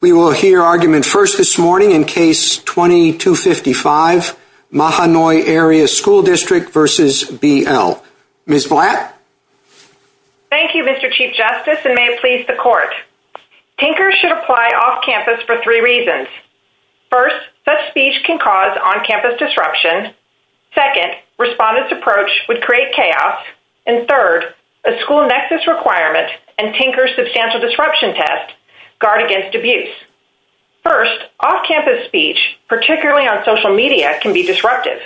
We will hear argument first this morning in Case 2255, Mahanoy Area School District v. B. L. Ms. Black? Thank you, Mr. Chief Justice, and may it please the Court. Tinkers should apply off-campus for three reasons. First, such speech can cause on-campus disruption. Second, respondents' approach would create chaos. And third, a school nexus requirement and Tinkers' substantial disruption test guard First, off-campus speech, particularly on social media, can be disruptive.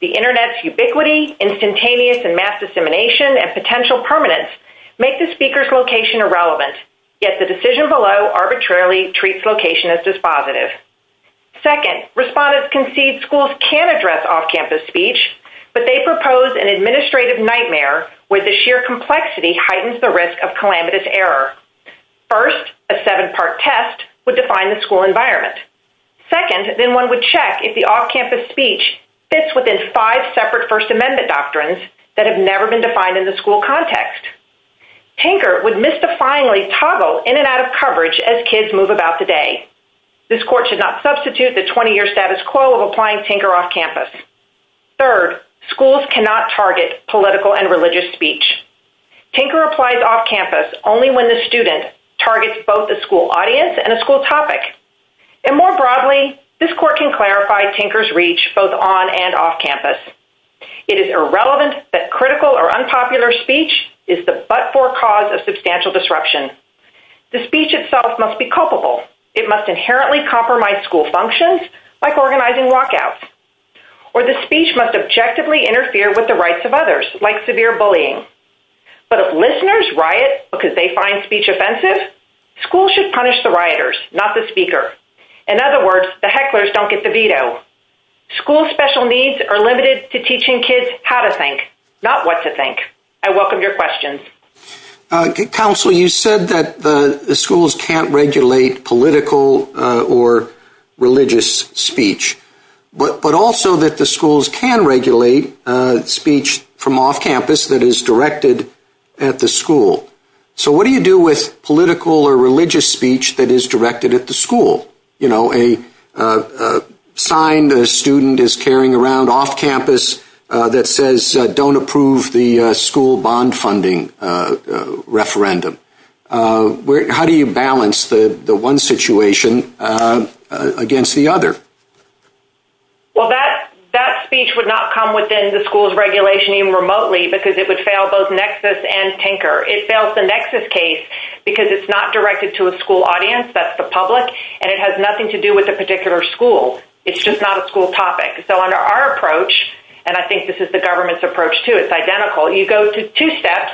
The Internet's ubiquity, instantaneous and mass dissemination, and potential permanence make the speaker's location irrelevant, yet the decision below arbitrarily treats location as dispositive. Second, respondents concede schools can address off-campus speech, but they propose an administrative nightmare where the sheer complexity heightens the risk of calamitous error. First, a seven-part test would define the school environment. Second, then one would check if the off-campus speech fits within five separate First Amendment doctrines that have never been defined in the school context. Tinker would misdefiningly toggle in and out of coverage as kids move about today. This Court should not substitute the 20-year status quo of applying Tinker off-campus. Third, schools cannot target political and religious speech. Tinker applies off-campus only when the student targets both the school audience and a school topic. And more broadly, this Court can clarify Tinker's reach both on and off-campus. It is irrelevant that critical or unpopular speech is the but-for cause of substantial disruption. The speech itself must be culpable. It must inherently compromise school functions, like organizing walkouts. Or the speech must objectively interfere with the rights of others, like severe bullying. But if listeners riot because they find speech offensive, schools should punish the rioters, not the speaker. In other words, the hecklers don't get the veto. Schools' special needs are limited to teaching kids how to think, not what to think. I welcome your questions. Counselor, you said that the schools cannot regulate political or religious speech. But also that the schools can regulate speech from off-campus that is directed at the school. So what do you do with political or religious speech that is directed at the school? So, for example, a sign a student is carrying around off-campus that says don't approve the school bond funding referendum. How do you balance the one situation against the other? Well, that speech would not come within the school's regulation even remotely because it would fail both Nexus and Tinker. It fails the Nexus case because it's not directed to a school audience. That's the public. And it has nothing to do with a particular school. It's just not a school topic. So under our approach, and I think this is the government's approach too, it's identical, you go to two steps,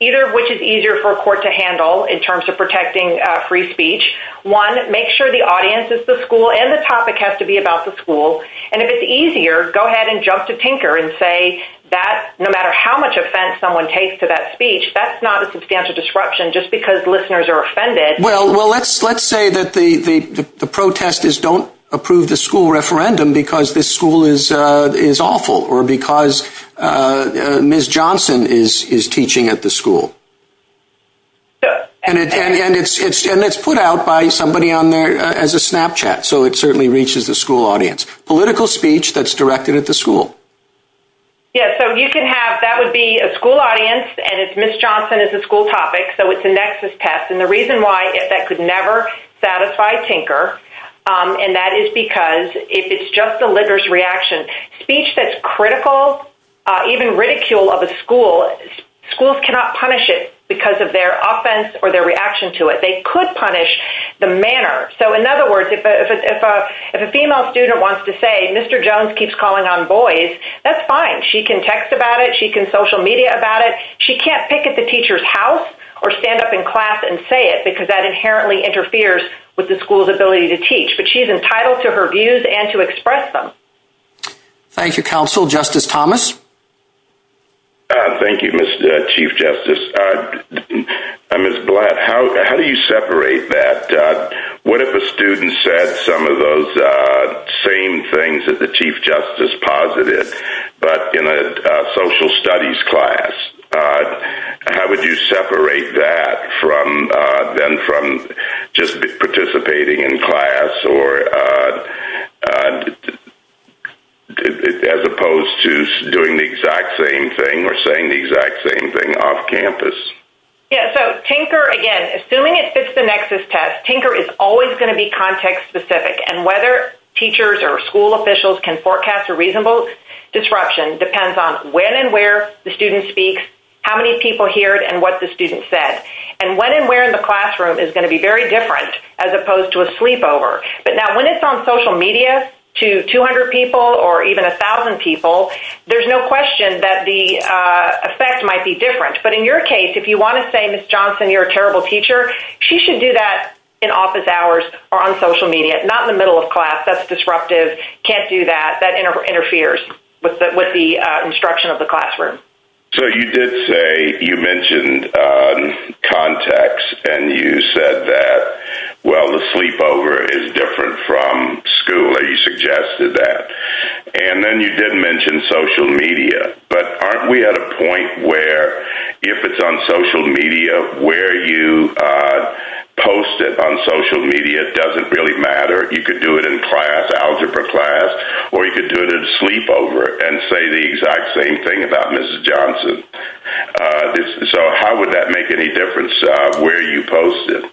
either of which is easier for a court to handle in terms of protecting free speech. One, make sure the audience is the school and the topic has to be about the school. And if it's easier, go ahead and jump to Tinker and say that no matter how much offense someone takes to that speech, that's not a substantial disruption just because listeners are offended. Well, let's say that the protest is don't approve the school referendum because this school is awful or because Ms. Johnson is teaching at the school. And it's put out by somebody on there as a Snapchat. So it certainly reaches the school audience. Political speech that's directed at the school. Yeah, so you can have, that would be a school audience and if Ms. Johnson is a school topic, so it's a nexus test. And the reason why that could never satisfy Tinker, and that is because if it's just the listener's reaction, speech that's critical, even ridicule of a school, schools cannot punish it because of their offense or their reaction to it. They could punish the manner. So in other words, if a female student wants to say, Mr. Jones keeps calling on boys, that's fine. She can text about it. She can social media about it. She can't pick at the teacher's house or stand up in class and say it because that inherently interferes with the school's ability to teach. But she's entitled to her views and to express them. Thank you, counsel. Justice Thomas? Thank you, Chief Justice. Ms. Blatt, how do you separate that? What if a student said some of those same things that the Chief Justice posited, but in a social studies class? How would you separate that from then from just participating in class or as opposed to doing the exact same thing or saying the exact same thing off campus? Yeah, so Tinker, again, assuming it fits the nexus test, Tinker is always going to be context specific. And whether teachers or school officials can forecast a reasonable disruption depends on when and where the student speaks, how many people hear it, and what the student said. And when and where in the classroom is going to be very different as opposed to a sleepover. But now, when it's on social media to 200 people or even 1,000 people, there's no question that the effect might be different. But in your case, if you want to say, Ms. Johnson, you're a terrible teacher, she should do that in office hours or on social media. Not in the middle of class. That's disruptive. Can't do that. That interferes with the instruction of the classroom. So you did say, you mentioned context, and you said that, well, the sleepover is different from school, or you suggested that. And then you did mention social media. But aren't we at a point where if it's on social media, where you post it on social media doesn't really matter? You could do it in class, algebra class, or you could do it in a sleepover and say the exact same thing about Ms. Johnson. So how would that make any difference where you post it?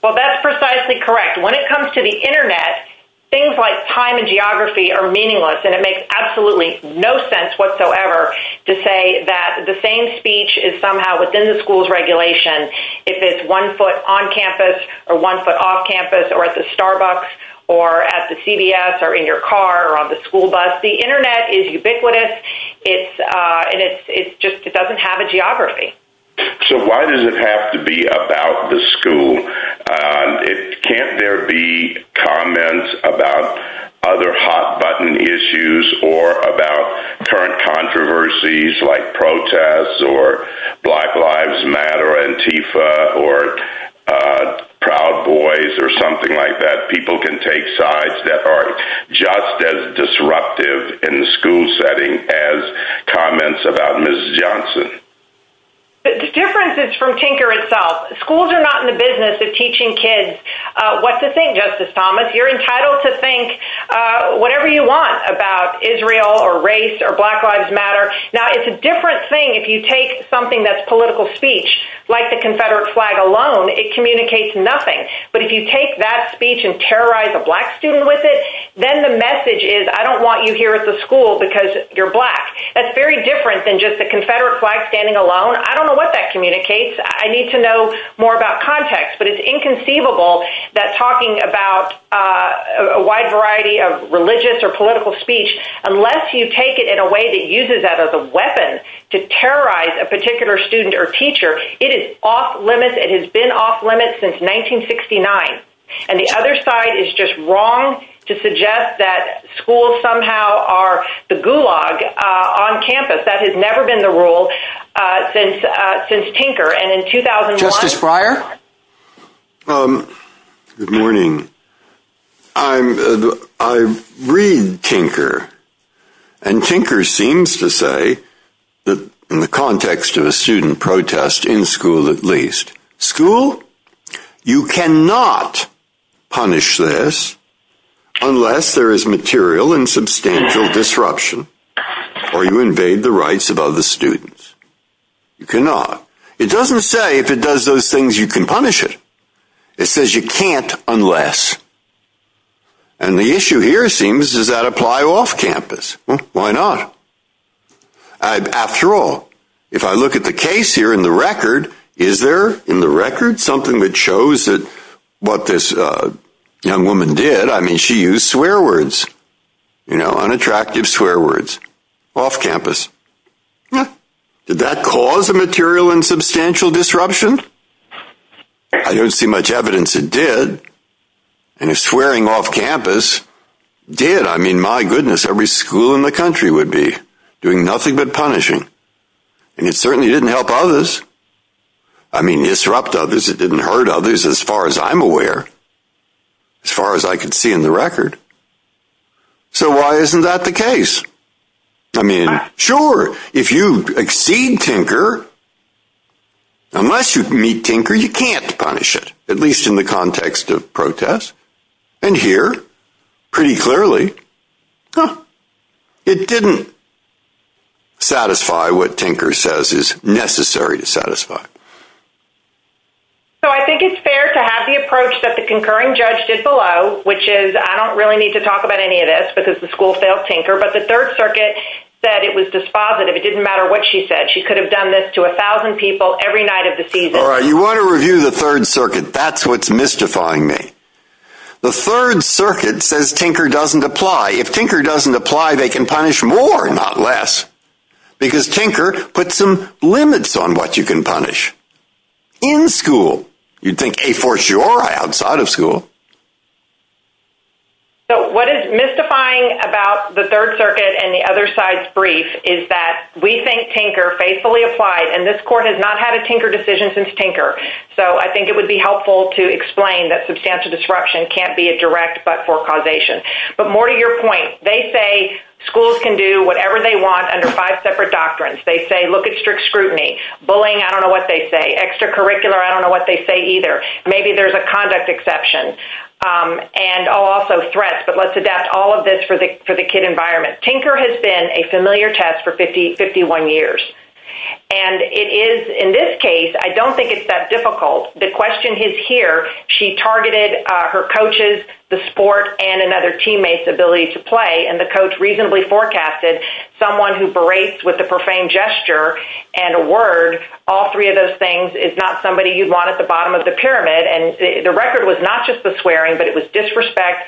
Well, that's precisely correct. When it comes to the Internet, things like time and geography are meaningless, and it makes no sense whatsoever to say that the same speech is somehow within the school's regulation if it's one foot on campus or one foot off campus or at the Starbucks or at the CVS or in your car or on the school bus. The Internet is ubiquitous, and it just doesn't have a geography. So why does it have to be about the school? Can't there be comments about other hot-button issues or about current controversies like protests or Black Lives Matter or Antifa or Proud Boys or something like that? People can take sides that are just as disruptive in the school setting as comments about Ms. Johnson. The difference is from Tinker itself. Schools are not in the business of teaching kids what to think, Justice Thomas. You're entitled to think whatever you want about Israel or race or Black Lives Matter. Now, it's a different thing if you take something that's political speech, like the Confederate flag alone, it communicates nothing. But if you take that speech and terrorize a black student with it, then the message is I don't want you here at the school because you're black. That's very different than just the Confederate flag standing alone. I don't know what that communicates. I need to know more about context. But it's inconceivable that talking about a wide variety of religious or political speech, unless you take it in a way that uses that as a weapon to terrorize a particular student or teacher, it is off-limits. It has been off-limits since 1969. And the other side is just wrong to suggest that schools somehow are the gulag on campus. That has never been the rule since Tinker. Justice Breyer? Good morning. I read Tinker. And Tinker seems to say, in the context of a student protest in school at least, school, you cannot punish this unless there is material and substantial disruption or you invade the rights of other students. You cannot. It doesn't say if it does those things you can punish it. It says you can't unless. And the issue here seems is that apply off-campus. Why not? After all, if I look at the case here in the record, is there in the record something that shows that what this young woman did, I mean, she used swear words, you know, unattractive swear words off-campus. Did that cause a material and substantial disruption? I don't see much evidence it did. And the swearing off-campus did. I mean, my goodness, every school in the country would be doing nothing but punishing. And it certainly didn't help others. I mean, disrupt others. It didn't hurt others as far as I'm aware, as far as I can see in the record. So why isn't that the case? I mean, sure, if you exceed Tinker, unless you meet Tinker, you can't punish it, at least in the context of protest. And here, pretty clearly, it didn't satisfy what Tinker says is necessary to satisfy. So I think it's fair to have the approach that the concurring judge did below, which is, I don't really need to talk about any of this because the school failed Tinker, but the Third Circuit said it was dispositive. It didn't matter what she said. She could have done this to a thousand people every night of the season. All right, you want to review the Third Circuit. That's what's mystifying me. The Third Circuit says Tinker doesn't apply. If Tinker doesn't apply, they can punish more, not less, because Tinker puts some limits on what you can punish. In school, you'd think a fortiori outside of school. So what is mystifying about the Third Circuit and the other side's brief is that we think Tinker faithfully applied, and this court has not had a Tinker decision since Tinker. So I think it would be helpful to explain that substantial disruption can't be a direct but-for causation. But more to your point, they say schools can do whatever they want under five separate doctrines. They say look at strict scrutiny. Bullying, I don't know what they say. Extracurricular, I don't know what they say either. Maybe there's a conduct exception and also threats, but let's adapt all of this for the kid environment. Tinker has been a familiar test for 51 years, and it is, in this case, I don't think it's that difficult. The question is here. She targeted her coaches, the sport, and another teammate's ability to play, and the coach reasonably forecasted someone who berates with a profane gesture and a word. All three of those things is not somebody you'd want at the bottom of the pyramid, and the record was not just the swearing, but it was disrespect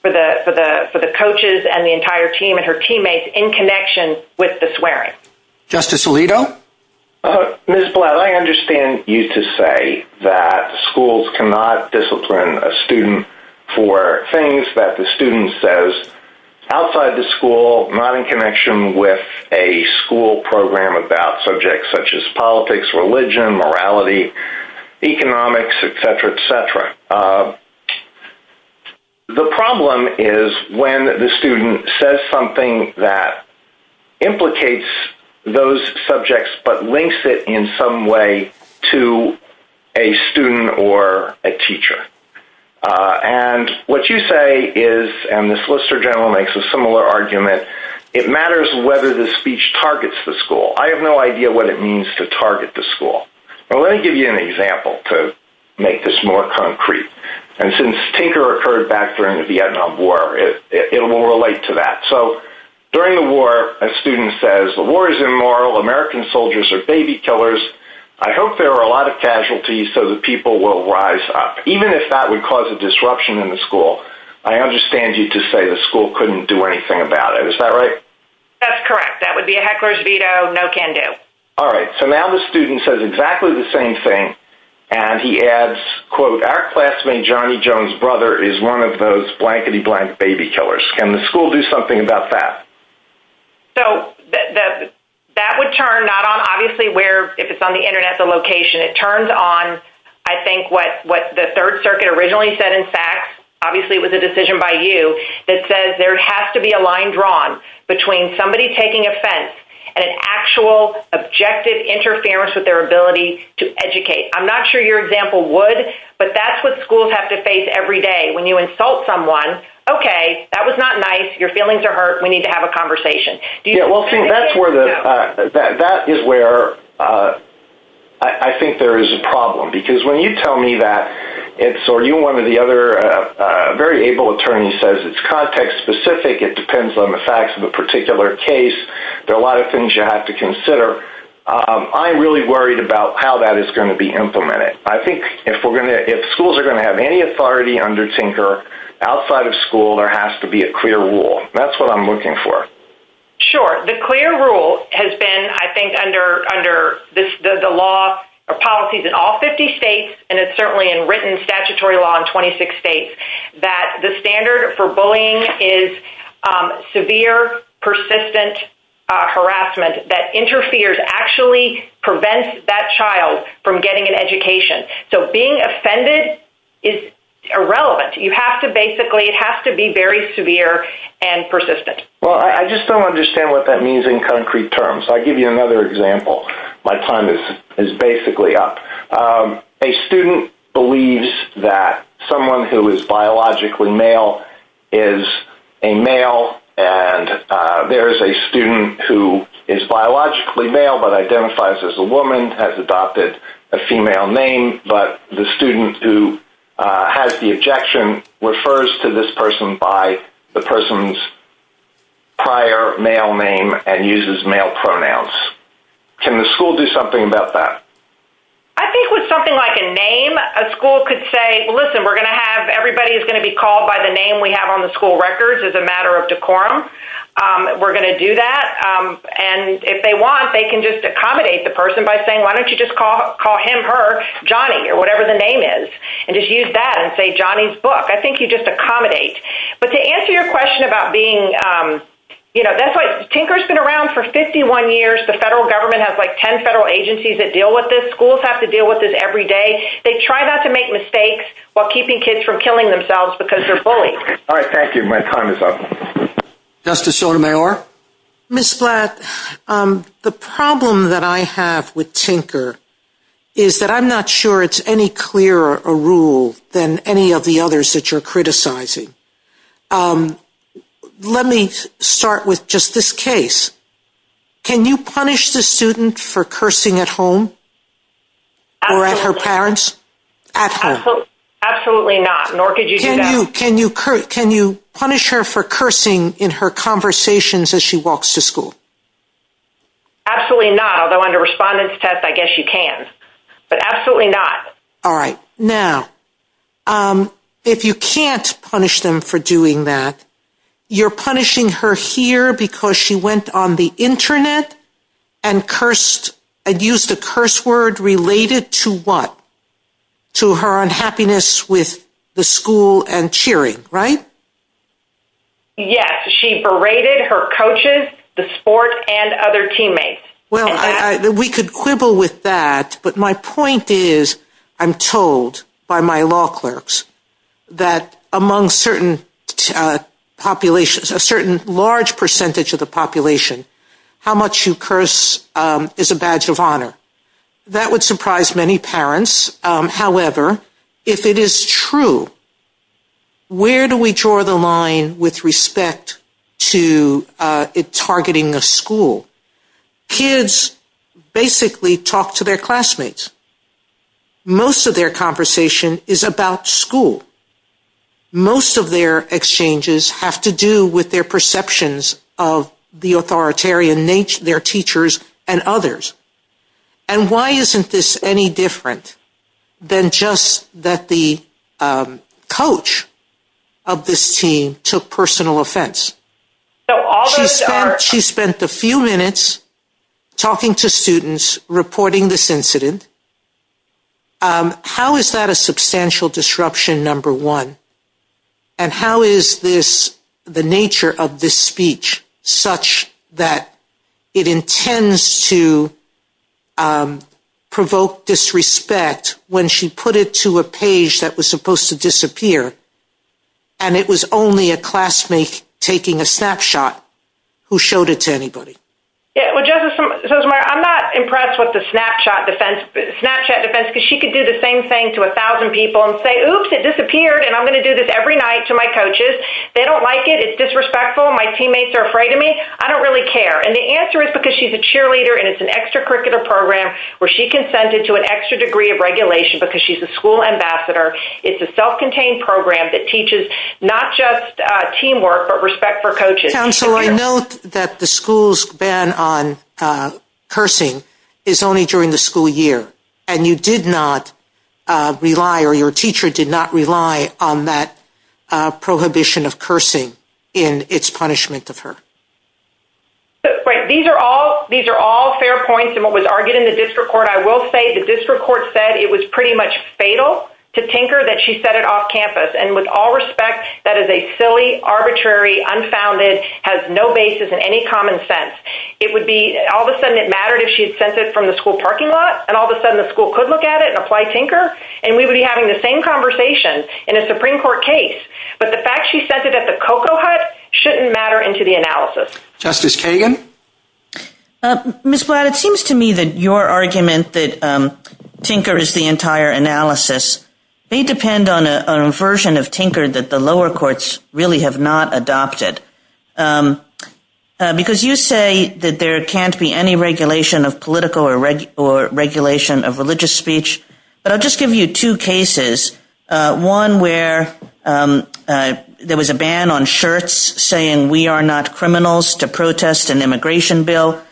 for the coaches and the entire team and her teammates in connection with the swearing. Justice Alito? Ms. Blatt, I understand you to say that schools cannot discipline a student for things that the student says outside the school, not in connection with a school program about subjects such as politics, religion, morality, economics, et cetera, et cetera. The problem is when the student says something that implicates those subjects but links it in some way to a student or a teacher. What you say is, and the Solicitor General makes a similar argument, it matters whether the speech targets the school. I have no idea what it means to target the school. Let me give you an example to make this more concrete. Since tinker occurred back during the Vietnam War, it will relate to that. During the war, a student says, the war is immoral. American soldiers are baby killers. I hope there are a lot of casualties so that people will rise up, even if that would cause a disruption in the school. I understand you to say the school couldn't do anything about it. Is that right? That's correct. That would be a heckler's veto. No can do. All right. So now the student says exactly the same thing, and he adds, quote, our classmate Johnny Jones' brother is one of those blankety-blank baby killers. Can the school do something about that? So that would turn not on obviously where, if it's on the Internet, the location. It turns on, I think, what the Third Circuit originally said in fact, obviously it was a decision by you, that says there has to be a line drawn between somebody taking offense and an actual objective interference with their ability to educate. I'm not sure your example would, but that's what schools have to face every day when you insult someone. Okay, that was not nice. Your feelings are hurt. We need to have a conversation. Yeah, well, see, that's where the, that is where I think there is a problem. Because when you tell me that it's, or you and one of the other very able attorneys says it's context-specific, it depends on the facts of the particular case, there are a lot of things you have to consider. I'm really worried about how that is going to be implemented. I think if we're going to, if schools are going to have any authority under Tinker, outside of school there has to be a clear rule. That's what I'm looking for. Sure. The clear rule has been, I think, under the law or policies in all 50 states, and it's certainly in written statutory law in 26 states, that the standard for bullying is severe, persistent harassment that interferes, actually prevents that child from getting an education. So being offended is irrelevant. You have to basically, it has to be very severe and persistent. Well, I just don't understand what that means in concrete terms. I'll give you another example. My time is basically up. A student believes that someone who is biologically male is a male, and there is a student who is biologically male but identifies as a woman, has adopted a female name, but the student who has the objection refers to this person by the person's prior male name and uses male pronouns. Can the school do something about that? I think with something like a name, a school could say, listen, we're going to have, everybody is going to be called by the name we have on the school records as a matter of decorum. We're going to do that. And if they want, they can just accommodate the person by saying, why don't you just call him, her, Johnny, or whatever the name is, and just use that and say Johnny's book. I think you just accommodate. But to answer your question about being, you know, that's like, Tinker has been around for 51 years. The federal government has like 10 federal agencies that deal with this. Schools have to deal with this every day. They try not to make mistakes while keeping kids from killing themselves because they're bullies. All right. Thank you. My time is up. Justice Sotomayor? Ms. Blatt, the problem that I have with Tinker is that I'm not sure it's any clearer a rule than any of the others that you're criticizing. Let me start with just this case. Can you punish the student for cursing at home or at her parents? Absolutely not, nor could you do that. Can you punish her for cursing in her conversations as she walks to school? Absolutely not. Although under respondent's test, I guess you can. But absolutely not. All right. Now, if you can't punish them for doing that, you're punishing her here because she went on the internet and cursed, and used a curse word related to what? To her unhappiness with the school and cheering, right? Yes. She berated her coaches, the sport, and other teammates. Well, we could quibble with that, but my point is I'm told by my law clerks that among certain populations, a certain large percentage of the population, how much you curse is a badge of honor. That would surprise many parents. However, if it is true, where do we draw the line with respect to targeting the school? Kids basically talk to their classmates. Most of their conversation is about school. Most of their exchanges have to do with their perceptions of the authoritarian nature of their teachers and others. And why isn't this any different than just that the coach of this team took personal offense? She spent a few minutes talking to students, reporting this incident. How is that a substantial disruption, number one? And how is this, the nature of this speech, such that it intends to provoke disrespect when she put it to a page that was supposed to disappear, and it was only a classmate taking a snapshot who showed it to anybody? I'm not impressed with the snapshot defense because she could do the same thing to a thousand people and say, oops, it disappeared, and I'm going to do this every night to my coaches. They don't like it. It's disrespectful. My teammates are afraid of me. I don't really care. And the answer is because she's a cheerleader and it's an extracurricular program where she consented to an extra degree of regulation because she's a school ambassador. It's a self-contained program that teaches not just teamwork but respect for coaches. Counsel, I note that the school's ban on cursing is only during the school year, and you did not rely or your teacher did not rely on that prohibition of cursing in its punishment of her. Right. These are all fair points in what was argued in the district court. I will say the district court said it was pretty much fatal to tinker that she said And with all respect, that is a silly, arbitrary, unfounded, has no basis in any common sense. It would be all of a sudden it mattered if she had sent it from the school parking lot and all of a sudden the school could look at it and apply tinker, and we would be having the same conversation in a Supreme Court case. But the fact she sent it at the cocoa hut shouldn't matter into the analysis. Justice Kagan? Ms. Blatt, it seems to me that your argument that tinker is the entire analysis may depend on a version of tinker that the lower courts really have not adopted. Because you say that there can't be any regulation of political or regulation of religious speech, but I'll just give you two cases. One where there was a ban on shirts saying we are not criminals to protest an immigration bill.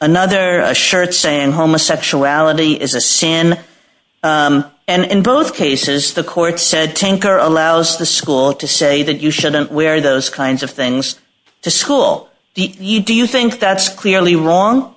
Another, a shirt saying homosexuality is a sin. And in both cases, the court said tinker allows the school to say that you shouldn't wear those kinds of things to school. Do you think that's clearly wrong?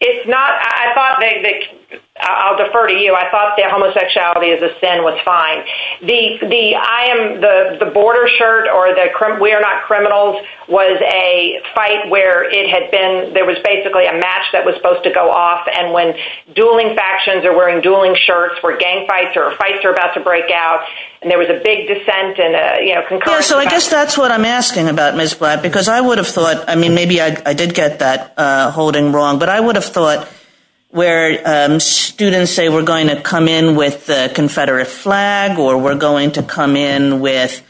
It's not, I thought, I'll defer to you, I thought that homosexuality is a sin was fine. The border shirt or the we are not criminals was a fight where it had been, there was basically a match that was supposed to go off and when dueling factions are wearing dueling shirts where gang fights or fights are about to break out and there was a big dissent and a concussion. So I guess that's what I'm asking about Ms. Blatt because I would have thought, I mean maybe I did get that holding wrong, but I would have thought where students say we're going to come in with the confederate flag or we're going to come in with,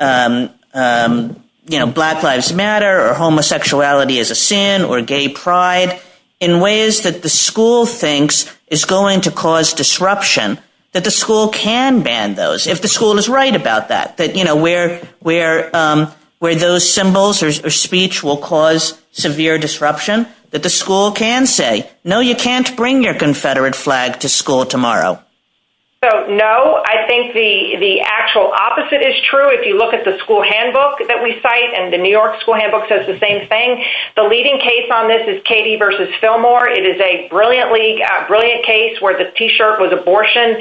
you know, black lives matter or homosexuality is a sin or gay pride in ways that the school thinks is going to cause disruption, that the school can ban those if the school is right about that, that, you know, where, where, um, where those symbols or speech will cause severe disruption that the school can say, no, you can't bring your confederate flag to school tomorrow. So, no, I think the, the actual opposite is true. If you look at the school handbook that we cite and the New York school handbook says the same thing. The leading case on this is Katie versus Fillmore. It is a brilliantly, brilliant case where the t-shirt was abortion,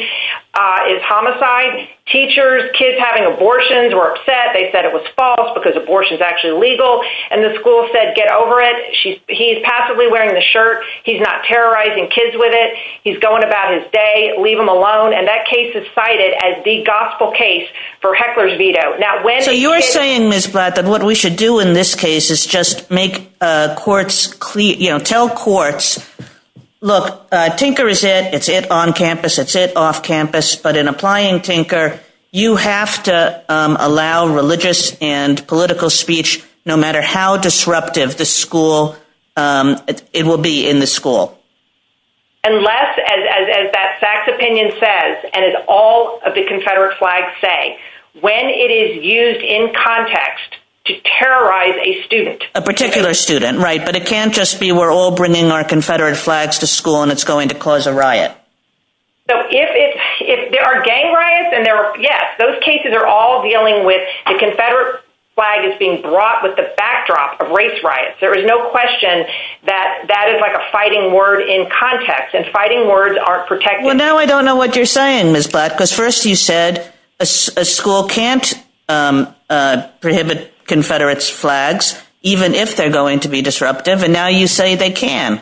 uh, is homicide. Teachers, kids having abortions were upset. They said it was false because abortion is actually legal and the school said get over it. She's, he's passively wearing the shirt. He's not terrorizing kids with it. He's going about his day. Leave him alone. And that case is cited as the gospel case for heckler's veto. Now, when you're saying this, but that what we should do in this case is just make, uh, courts, you know, tell courts, look, uh, tinker is it. It's it on campus. It's it off campus, but in applying tinker, you have to, um, allow religious and political speech, no matter how disruptive the school, um, it will be in the school. Unless as, as, as that facts opinion says, and it's all of the Confederate flags say when it is used in context to terrorize a student, a particular student. Right. But it can't just be, we're all bringing our Confederate flags to school and it's going to cause a riot. So if, if, if there are gang riots and there are, yes, those cases are all dealing with the Confederate flag is being brought with the backdrop of race riots. There is no question that that is like a fighting word in context and fighting words aren't protecting. Well, now I don't know what you're saying is black because first you said a school can't, um, uh, prohibit Confederates flags, even if they're going to be disruptive. And now you say they can.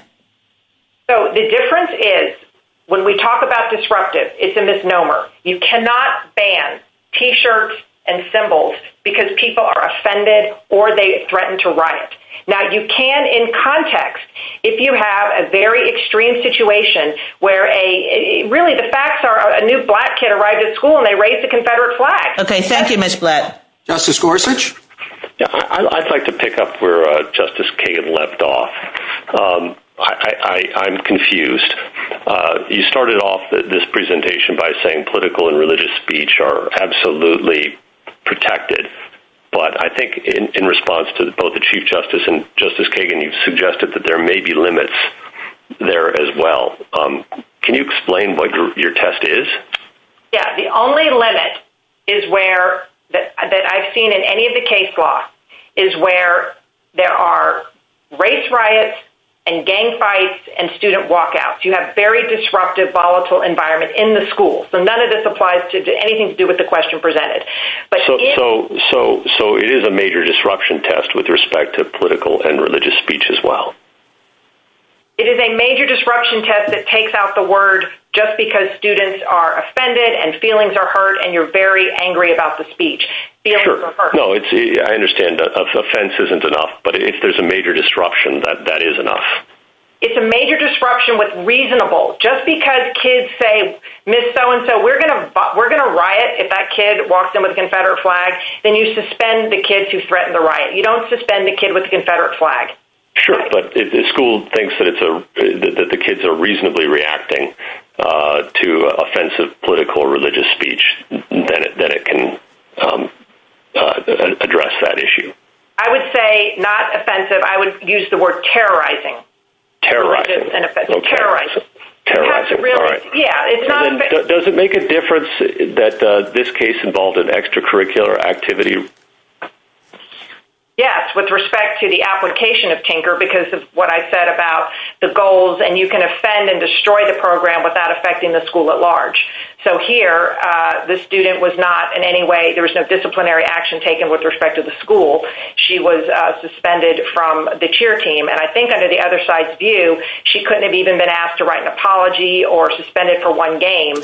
So the difference is when we talk about disruptive, it's a misnomer. You cannot ban t-shirts and symbols because people are offended or they threatened to riot. Now you can in context, if you have a very extreme situation where a really the facts are a new black kid arrived at school and they raised the Confederate flag. Okay. Thank you. Mr. Black. Justice Gorsuch. I'd like to pick up where justice Kate left off. Um, I, I, I'm confused. Uh, you started off this presentation by saying political and religious speech are absolutely protected. But I think in response to the, both the chief justice and justice Kagan, you've suggested that there may be limits there as well. Um, can you explain what your test is? Yeah. The only limit is where that I've seen in any of the case law is where there are race riots and gang fights and student walkouts. You have very disruptive volatile environment in the school. So none of this applies to do anything to do with the question presented. So, so, so, so it is a major disruption test with respect to political and religious speech as well. It is a major disruption test that takes out the word just because students are offended and feelings are hurt and you're very angry about the speech. No, it's a, I understand that offense isn't enough, but if there's a major disruption that that is enough, it's a major disruption with reasonable just because kids say, miss so-and-so we're going to, we're going to riot. If that kid walked in with Confederate flag, then you suspend the kids who threatened the riot. You don't suspend the kid with Confederate flag. Sure. But if the school thinks that it's a, that the kids are reasonably reacting, uh, to offensive political or religious speech, then it, then it can, um, uh, address that issue. I would say not offensive. I would use the word terrorizing, terrorizing, terrorizing, terrorizing. Does it make a difference that this case involved in extracurricular activity? Yes. With respect to the application of tinker, because of what I said about the goals and you can offend and destroy the program without affecting the school at large. So here, uh, the student was not in any way, there was no disciplinary action taken with respect to the school. She was suspended from the cheer team. And I think under the other side view, she couldn't have even been asked to write an apology or suspended for one game.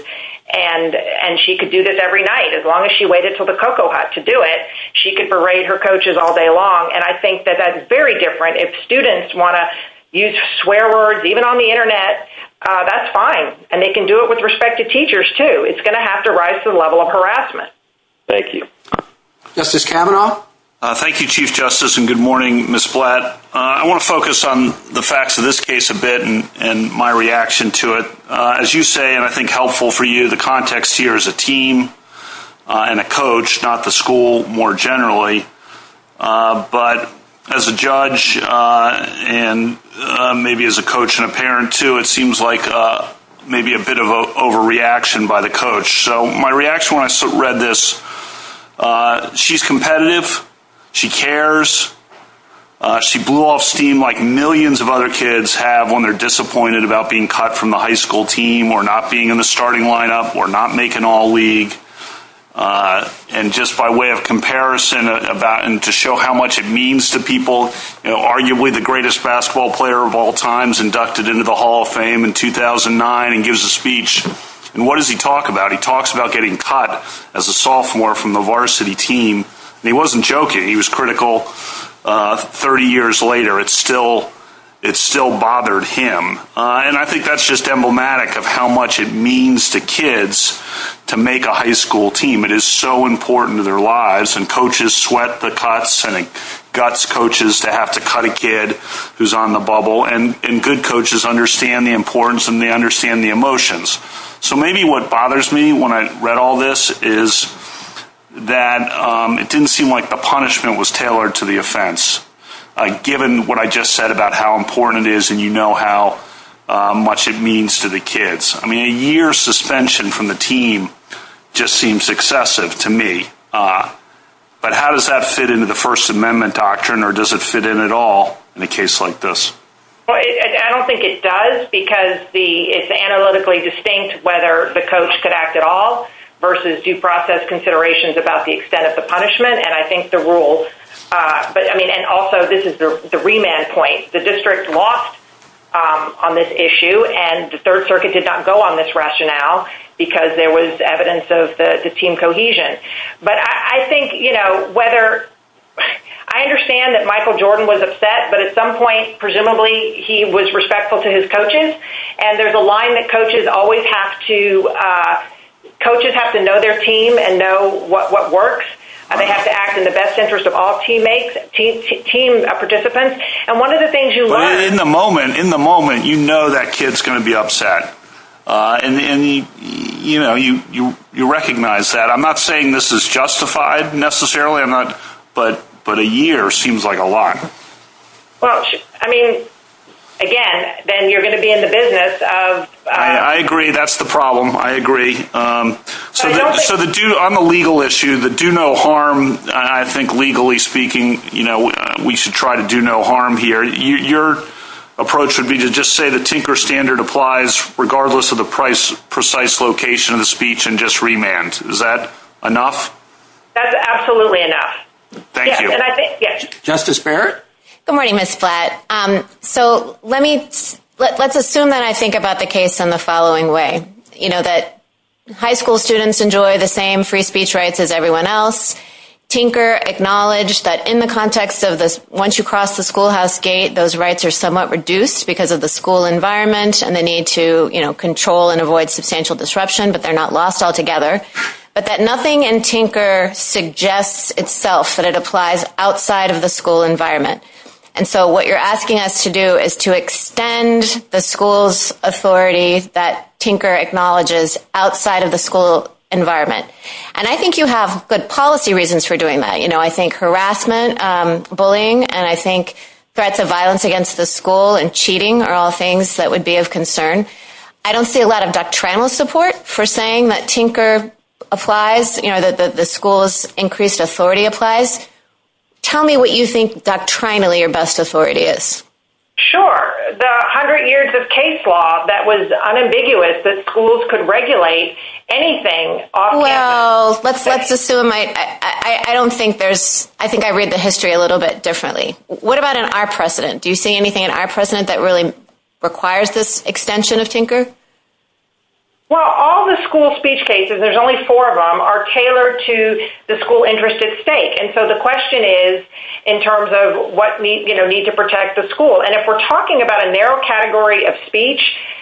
And, and she could do this every night as long as she waited for the cocoa hut to do it. She could parade her coaches all day long. And I think that that's very different. If students want to use swear words, even on the internet, uh, that's fine. And they can do it with respect to teachers too. It's going to have to rise to the level of harassment. Thank you. Justice Kavanaugh. Thank you, chief justice. And good morning, Ms. Gillette. I want to focus on the facts of this case a bit and my reaction to it. Uh, as you say, and I think helpful for you, the context here is a team, uh, and a coach, not the school more generally. Uh, but as a judge, uh, and, uh, maybe as a coach and a parent too, it seems like, uh, maybe a bit of a overreaction by the coach. So my reaction, when I read this, uh, she's competitive, she cares, uh, she blew off steam like millions of other kids have when they're disappointed about being cut from the high school team or not being in the starting lineup or not making all league. Uh, and just by way of comparison about, and to show how much it means to people, you know, arguably the greatest basketball player of all times inducted into the hall of fame in 2009 and gives a speech. And what does he talk about? He talks about getting cut as a sophomore from the varsity team. And he wasn't joking. He was critical. Uh, 30 years later, it's still, it's still bothered him. Uh, and I think that's just emblematic of how much it means to kids to make a high school team. It is so important to their lives and coaches sweat the cuts and it guts coaches to have to cut a kid who's on the bubble and, and good coaches understand the importance and they understand the emotions. So maybe what bothers me when I read all this is that, um, it didn't seem like the punishment was tailored to the offense. Uh, given what I just said about how important it is and you know how much it means to the kids. I mean, a year suspension from the team just seems excessive to me. Uh, but how does that fit into the first amendment doctrine or does it fit in at all in a case like this? Well, I don't think it does because the, it's analytically distinct whether the coach could act at all versus due process considerations about the extent of the punishment. And I think the rules, uh, but I mean, and also this is the remand point. The district lost, um, on this issue and the third circuit did not go on this rationale because there was evidence of the team cohesion. But I think, you know, whether I understand that Michael Jordan was upset, but at some point, presumably he was respectful to his coaches and there's a line that coaches always have to, uh, coaches have to know their team and know what, what works. They have to act in the best interest of all teammates, team participants. And one of the things you learn... In the moment, in the moment, you know that kid's going to be upset. Uh, and, and you, you know, you, you, you recognize that. I'm not saying this is justified necessarily. I'm not, but, but a year seems like a lot. Well, I mean, again, then you're going to be in the business of... I agree. That's the problem. I agree. Um, so the, so the due, on the legal issue, the do no harm, I think legally speaking, you know, we should try to do no harm here. Your approach would be to just say the Tinker standard applies regardless of the price, precise location of the speech and just remand. Is that enough? That's absolutely enough. Thank you. And I think, yes. Justice Barrett. Good morning, Ms. Platt. Um, so let me, let's assume that I think about the case in the following way. You know, that high school students enjoy the same free speech rights as everyone else. Tinker acknowledged that in the context of this, once you cross the schoolhouse gate, those rights are somewhat reduced because of the school environment and the need to, you know, control and avoid substantial disruption, but they're not lost altogether. But that nothing in Tinker suggests itself that it applies outside of the school environment. And so what you're asking us to do is to extend the school's authority that Tinker acknowledges outside of the school environment. And I think you have good policy reasons for doing that. You know, I think harassment, um, bullying, and I think threats of violence against the school and cheating are all things that would be of concern. I don't see a lot of doctrinal support for saying that Tinker applies, you know, that the school's increased authority applies. Tell me what you think doctrinally your best authority is. Sure. There are a hundred years of case law that was unambiguous that schools could regulate anything off campus. Well, let's assume I, I don't think there's, I think I read the history a little bit differently. What about in our precedent? Do you see anything in our precedent that really requires this extension of Tinker? Well, all the school speech cases, there's only four of them, are tailored to the school interest at stake. And so the question is in terms of what we, you know, need to protect the school. And if we're talking about a narrow category of speech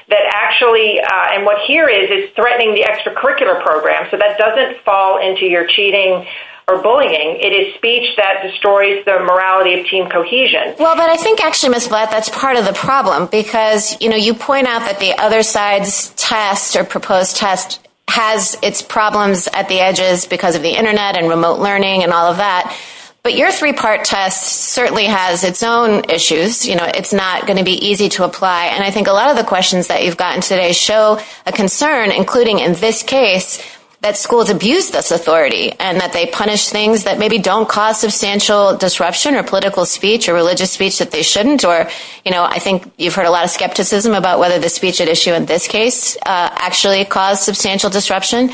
that actually, uh, and what here is it's threatening the extracurricular program. So that doesn't fall into your cheating or bullying. It is speech that destroys the morality of team cohesion. Well, but I think actually, Ms. Black, that's part of the problem because, you know, you point out that the other side's test or proposed test has its problems at the edges because of the internet and remote learning and all of that. But your three-part test certainly has its own issues. You know, it's not going to be easy to apply. And I think a lot of the questions that you've gotten today show a concern, including in this case, that schools abuse this authority and that they punish things that maybe don't cause substantial disruption or political speech or religious speech that they shouldn't or, you know, I think you've heard a lot of skepticism about whether the speech at issue in this case actually caused substantial disruption.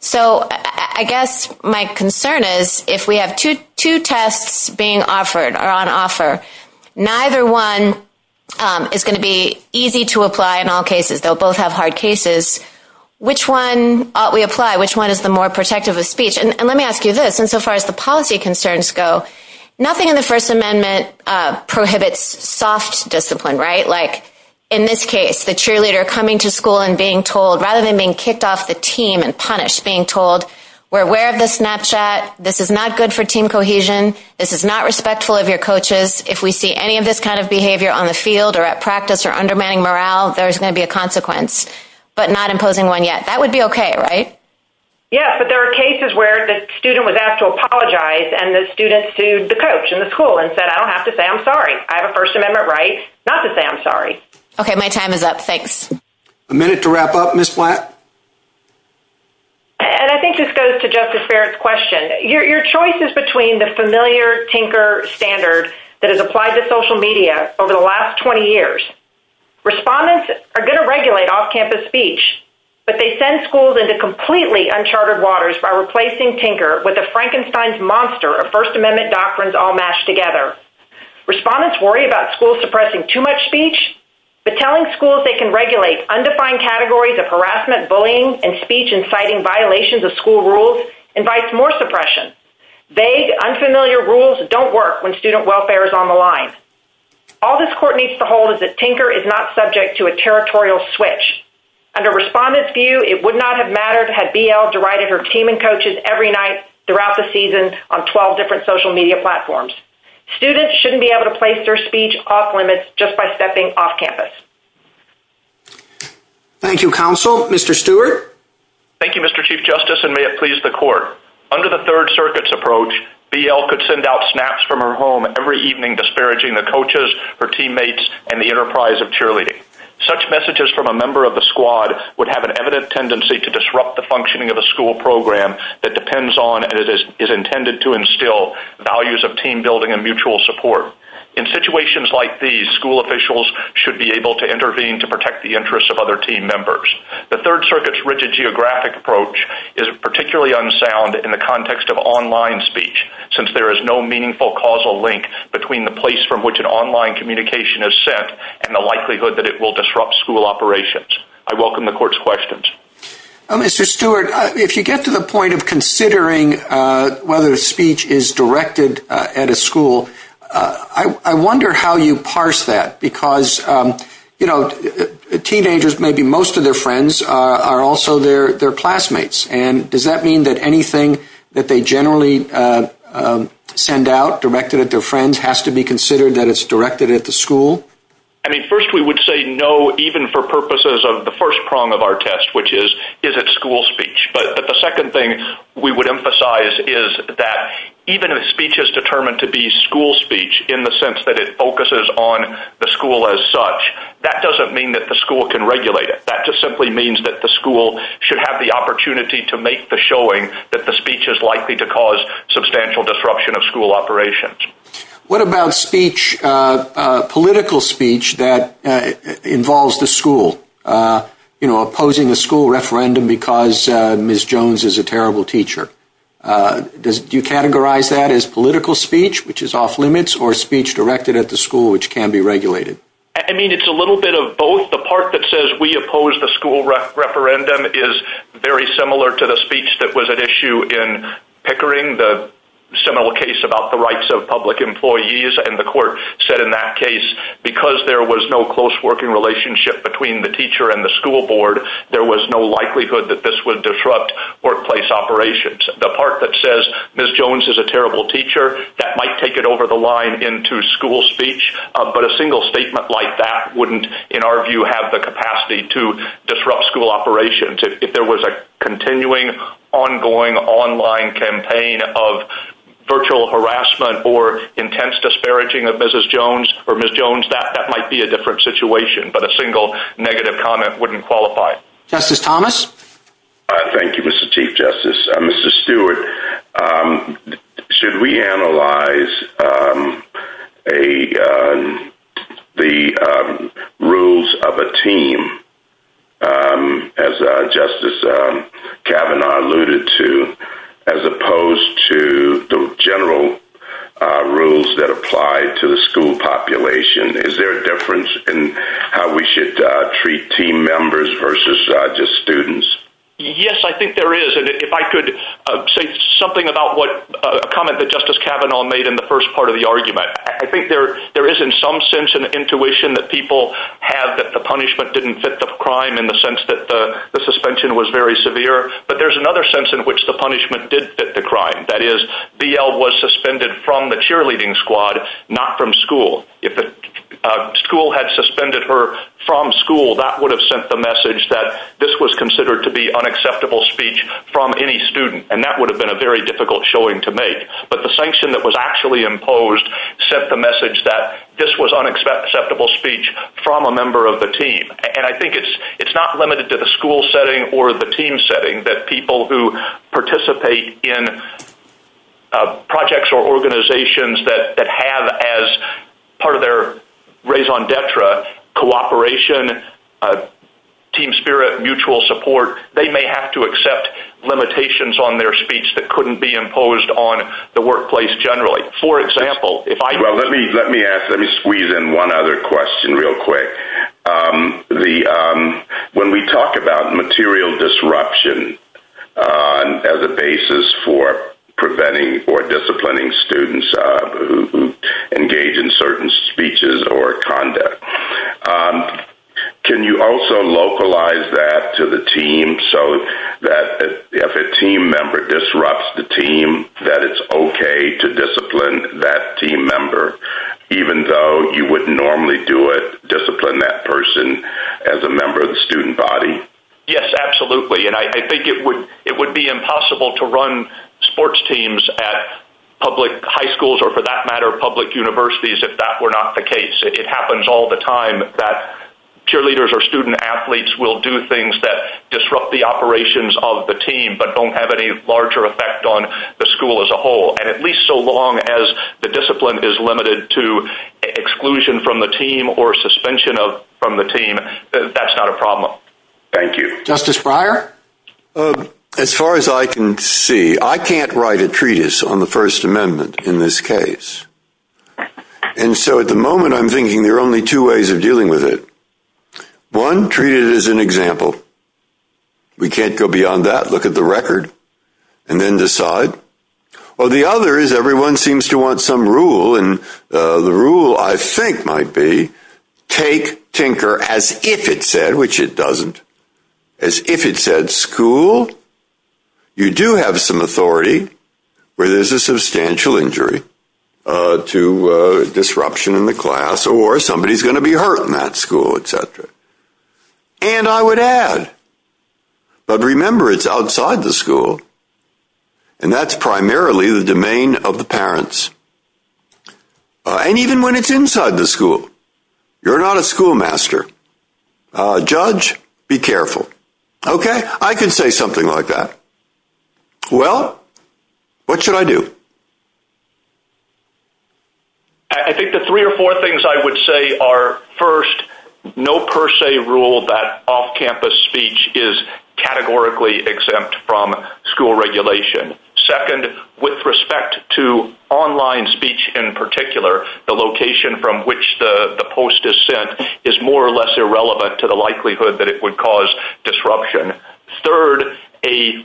So I guess my concern is if we have two tests being offered or on offer, neither one is going to be easy to apply in all cases. They'll both have hard cases. Which one ought we apply? Which one is the more protective of speech? And let me ask you this. And so far as the policy concerns go, nothing in the First Amendment prohibits soft discipline, right? Like in this case, the cheerleader coming to school and being told, rather than being kicked off the team and punished, being told, we're aware of this Snapchat. This is not good for team cohesion. This is not respectful of your coaches. If we see any of this kind of behavior on the field or at practice or undermining morale, there's going to be a consequence. But not imposing one yet. That would be okay, right? Yes. But there are cases where the student was asked to apologize and the student sued the coach in the school and said, I don't have to say I'm sorry. I have a First Amendment right not to say I'm sorry. Okay. My time is up. Thanks. A minute to wrap up, Ms. Flatt. And I think this goes to Justice Barrett's question. Your choice is between the familiar tinker standard that has applied to social media over the last 20 years. Respondents are going to regulate off-campus speech, but they send schools into completely uncharted waters by replacing tinker with a Frankenstein's monster of First Amendment doctrines all mashed together. Respondents worry about schools suppressing too much speech, but telling schools they can regulate undefined categories of harassment, bullying, and speech inciting violations of school rules invites more suppression. Vague, unfamiliar rules don't work when student welfare is on the line. All this court needs to hold is that tinker is not subject to a territorial switch. Under respondents' view, it would not have mattered had BL derided her team and coaches every night throughout the season on 12 different social media platforms. Students shouldn't be able to place their speech off-limits just by stepping off-campus. Thank you, counsel. Mr. Stewart? Thank you, Mr. Chief Justice, and may it please the court. Under the Third Circuit's approach, BL could send out snaps from her home every evening disparaging the coaches, her teammates, and the enterprise of cheerleading. Such messages from a member of the squad would have an evident tendency to disrupt the functioning of a school program that depends on and is intended to instill values of team building and mutual support. In situations like these, school officials should be able to intervene to protect the interests of other team members. The Third Circuit's rigid geographic approach is particularly unsound in the context of online speech since there is no meaningful causal link between the place from which an online communication is sent and the likelihood that it will disrupt school operations. I welcome the court's questions. Mr. Stewart, if you get to the point of considering whether speech is directed at a school, I wonder how you parse that, because, you know, teenagers, maybe most of their friends, are also their classmates. And does that mean that anything that they generally send out directed at their friends has to be considered that it's directed at the school? I mean, first, we would say no even for purposes of the first prong of our test, which is, is it school speech? But the second thing we would emphasize is that even if speech is determined to be school speech in the sense that it focuses on the school as such, that doesn't mean that the school can regulate it. That just simply means that the school should have the opportunity to make the showing that the speech is likely to cause substantial disruption of school operations. You know, opposing the school referendum because Ms. Jones is a terrible teacher. Do you categorize that as political speech, which is off limits, or speech directed at the school, which can be regulated? I mean, it's a little bit of both. The part that says we oppose the school referendum is very similar to the speech that was at issue in Pickering, the similar case about the rights of public employees. And the court said in that case, because there was no close working relationship between the teacher and the school board, there was no likelihood that this would disrupt workplace operations. The part that says Ms. Jones is a terrible teacher, that might take it over the line into school speech. But a single statement like that wouldn't, in our view, have the capacity to disrupt school operations. If there was a continuing, ongoing online campaign of virtual harassment or intense disparaging of Mrs. Jones or Ms. Jones, that might be a different situation. But a single negative comment wouldn't qualify. Justice Thomas? Thank you, Mr. Chief Justice. Mr. Stewart, should we analyze the rules of a team, as Justice Kavanaugh alluded to, as opposed to the general rules that apply to the school population? Is there a difference in how we should treat team members versus just students? Yes, I think there is. And if I could say something about a comment that Justice Kavanaugh made in the first part of the argument. I think there is, in some sense, an intuition that people have that the punishment didn't fit the crime in the sense that the suspension was very severe. But there's another sense in which the punishment did fit the crime. That is, BL was suspended from the cheerleading squad, not from school. If a school had suspended her from school, that would have sent the message that this was considered to be unacceptable speech from any student. And that would have been a very difficult showing to make. But the sanction that was actually imposed sent the message that this was unacceptable speech from a member of the team. And I think it's not limited to the school setting or the team setting that people who participate in projects or organizations that have as part of their raison d'etre cooperation, team spirit, mutual support, they may have to accept limitations on their speech that couldn't be imposed on the workplace generally. For example, if I... Well, let me ask, let me squeeze in one other question real quick. When we talk about material disruption as a basis for preventing or disciplining students who engage in certain speeches or conduct, can you also localize that to the team so that if a team member disrupts the team, that it's okay to discipline that team member, even though you wouldn't normally do it, discipline that person as a member of the student body? Yes, absolutely. And I think it would be impossible to run sports teams at public high schools or, for that matter, public universities if that were not the case. It happens all the time that cheerleaders or student athletes will do things that disrupt the operations of the team but don't have any larger effect on the school as a whole. And at least so long as the discipline is limited to exclusion from the team or suspension from the team, that's not a problem. Thank you. Justice Breyer? As far as I can see, I can't write a treatise on the First Amendment in this case. And so at the moment, I'm thinking there are only two ways of dealing with it. One, treat it as an example. We can't go beyond that, look at the record, and then decide. Or the other is everyone seems to want some rule, and the rule, I think, might be take tinker as if it said, which it doesn't, as if it said school, you do have some authority where there's a substantial injury to disruption in the class or somebody's going to be hurt in that school, et cetera. And I would add, but remember, it's outside the school. And even when it's inside the school. You're not a schoolmaster. Judge, be careful. Okay? I can say something like that. Well, what should I do? I think the three or four things I would say are, first, no per se rule that off-campus speech is categorically exempt from school regulation. Second, with respect to online speech in particular, the location from which the post is sent is more or less irrelevant to the likelihood that it would cause disruption. Third, a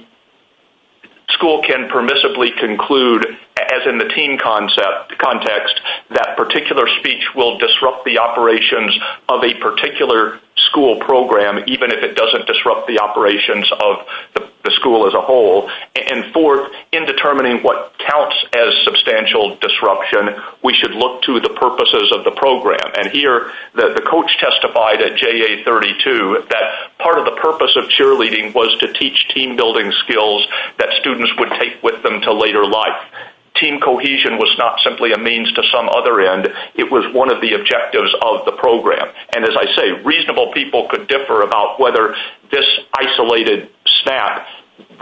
school can permissibly conclude, as in the team context, that particular speech will disrupt the operations of a particular school program, even if it doesn't disrupt the operations of the school as a whole. And fourth, in determining what counts as substantial disruption, we should look to the purposes of the program. And here, the coach testified at JA32 that part of the purpose of cheerleading was to teach team-building skills that students would take with them to later life. Team cohesion was not simply a means to some other end. It was one of the objectives of the program. And as I say, reasonable people could differ about whether this isolated snap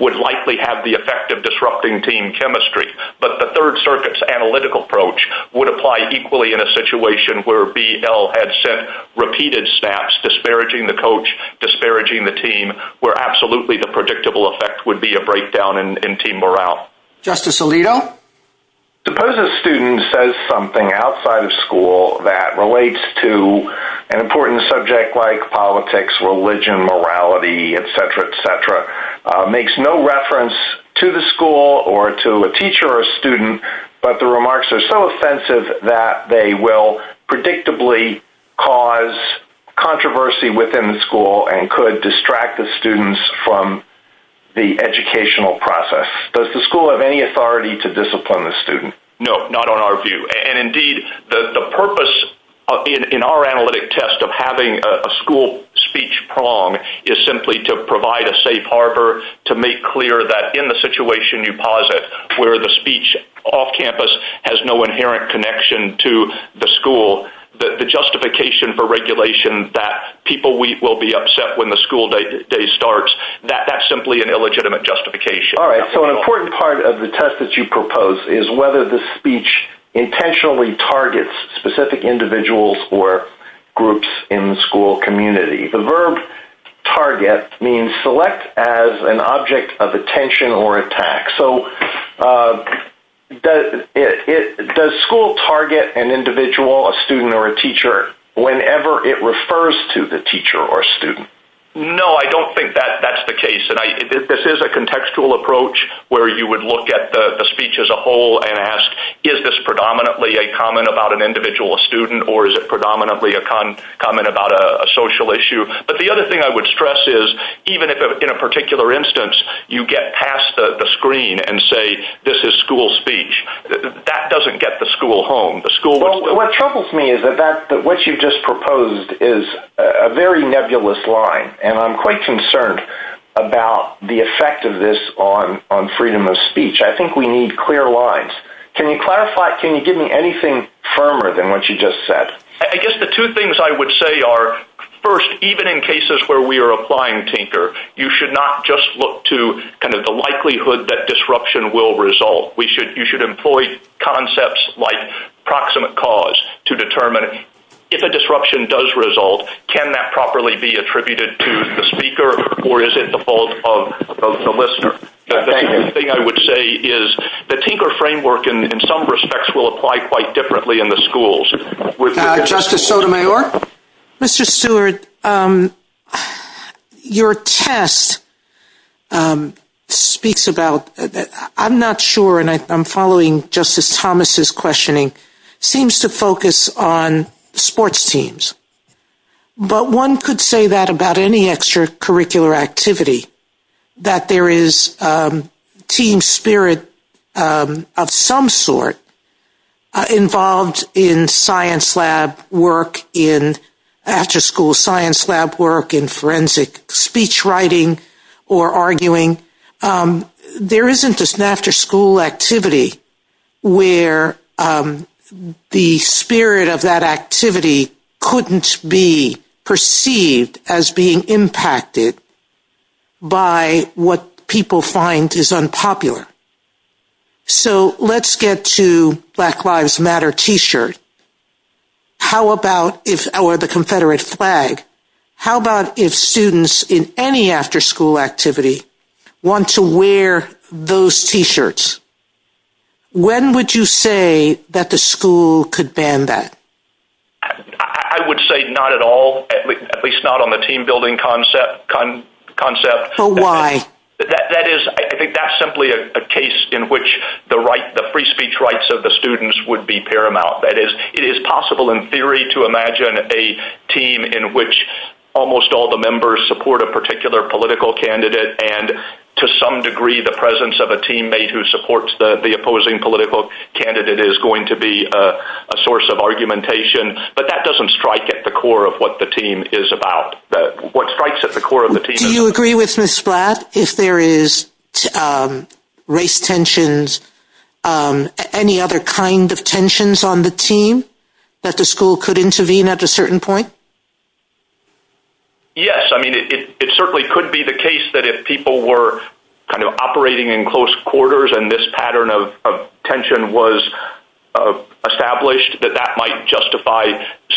would likely have the effect of disrupting team chemistry. But the Third Circuit's analytical approach would apply equally in a situation where BL had sent repeated snaps, disparaging the coach, disparaging the team, where absolutely the predictable effect would be a breakdown in team morale. Justice Alito? Suppose a student says something outside of school that relates to an important subject like politics, religion, morality, etc., etc., makes no reference to the school or to a teacher or a student, but the remarks are so offensive that they will predictably cause controversy within the school and could distract the students from the educational process. Does the school have any authority to discipline the student? No, not on our view. And indeed, the purpose in our analytic test of having a school speech prong is simply to provide a safe harbor to make clear that in the situation you posit where the speech off campus has no inherent connection to the school, the justification for regulation that people will be upset when the school day starts, that that's simply an illegitimate justification. All right, so an important part of the test that you propose is whether the speech intentionally targets specific individuals or groups in the school community. The verb target means select as an object of attention or attack. So does school target an individual, a student, or a teacher whenever it refers to the teacher or student? No, I don't think that's the case. This is a contextual approach where you would look at the speech as a whole and ask, is this predominantly a comment about an individual, a student, or is it predominantly a comment about a social issue? But the other thing I would stress is even if in a particular instance you get past the screen and say, this is school speech, that doesn't get the school home. What troubles me is that what you just proposed is a very nebulous line, and I'm quite concerned about the effect of this on freedom of speech. I think we need clear lines. Can you clarify, can you give me anything firmer than what you just said? I guess the two things I would say are, first, even in cases where we are applying Tinker, you should not just look to the likelihood that disruption will result. You should employ concepts like proximate cause to determine if a disruption does result, can that properly be attributed to the speaker, or is it the fault of the listener? The other thing I would say is the Tinker framework in some respects will apply quite differently in the schools. Justice Sotomayor? Mr. Stewart, your test speaks about, I'm not sure, and I'm following Justice Thomas' questioning, seems to focus on sports teams. But one could say that about any extracurricular activity, that there is team spirit of some sort involved in science lab work, in after school science lab work, in forensic speech writing or arguing. There isn't an after school activity where the spirit of that activity couldn't be perceived as being impacted by what people find is unpopular. So let's get to Black Lives Matter T-shirt, or the Confederate flag. How about if students in any after school activity want to wear those T-shirts? When would you say that the school could ban that? I would say not at all, at least not on the team building concept. But why? That is, I think that's simply a case in which the free speech rights of the students would be paramount. That is, it is possible in theory to imagine a team in which almost all the members support a particular political candidate, and to some degree the presence of a teammate who supports the opposing political candidate is going to be a source of argumentation. But that doesn't strike at the core of what the team is about. What strikes at the core of the team is... that the school could intervene at a certain point? Yes. I mean, it certainly could be the case that if people were kind of operating in close quarters and this pattern of tension was established, that that might justify